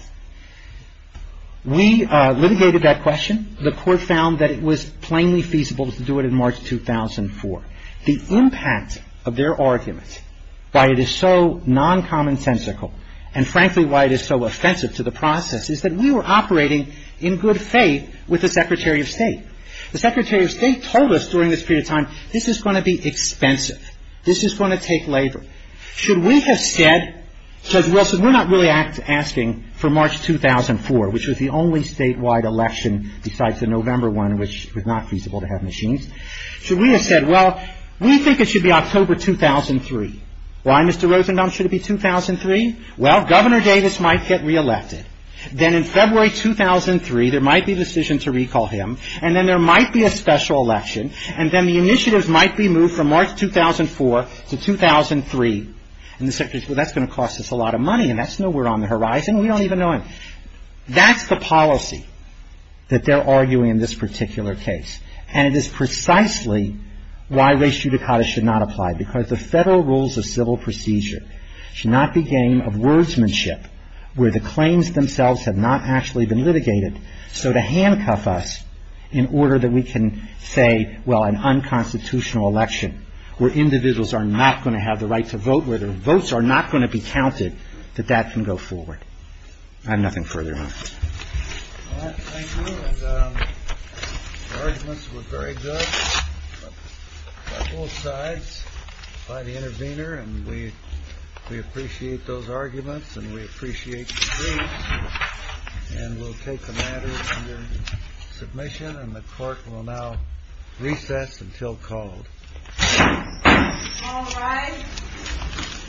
We litigated that question. The court found that it was plainly feasible to do it in March 2004. The impact of their argument, why it is so non-common sensical, and frankly why it is so offensive to the process, is that we were operating in good faith with the Secretary of State. The Secretary of State told us during this period of time, this is going to be expensive. This is going to take labor. Should we have said, Judge Wilson, we're not really asking for March 2004, which was the only statewide election besides the November one, which was not feasible to have machines. Should we have said, well, we think it should be October 2003. Why, Mr. Rosenbaum, should it be 2003? Well, Governor Davis might get re-elected. Then in February 2003, there might be a decision to recall him, and then there might be a special election, and then the initiatives might be moved from March 2004 to 2003, and the Secretary says, well, that's going to cost us a lot of money, and that's nowhere on the horizon. We don't even know him. That's the policy that they're arguing in this particular case, and it is precisely why res judicata should not apply, because the federal rules of civil procedure should not be game of wordsmanship where the claims themselves have not actually been litigated, so to handcuff us in order that we can say, well, an unconstitutional election where individuals are not going to have the right to vote, where the votes are not going to be counted, that that can go forward. I have nothing further on this. Well, thank you, and the arguments were very good on both sides by the intervener, and we appreciate those arguments, and we appreciate your case, and we'll take the matter into submission, and the court will now reset until called. All rise.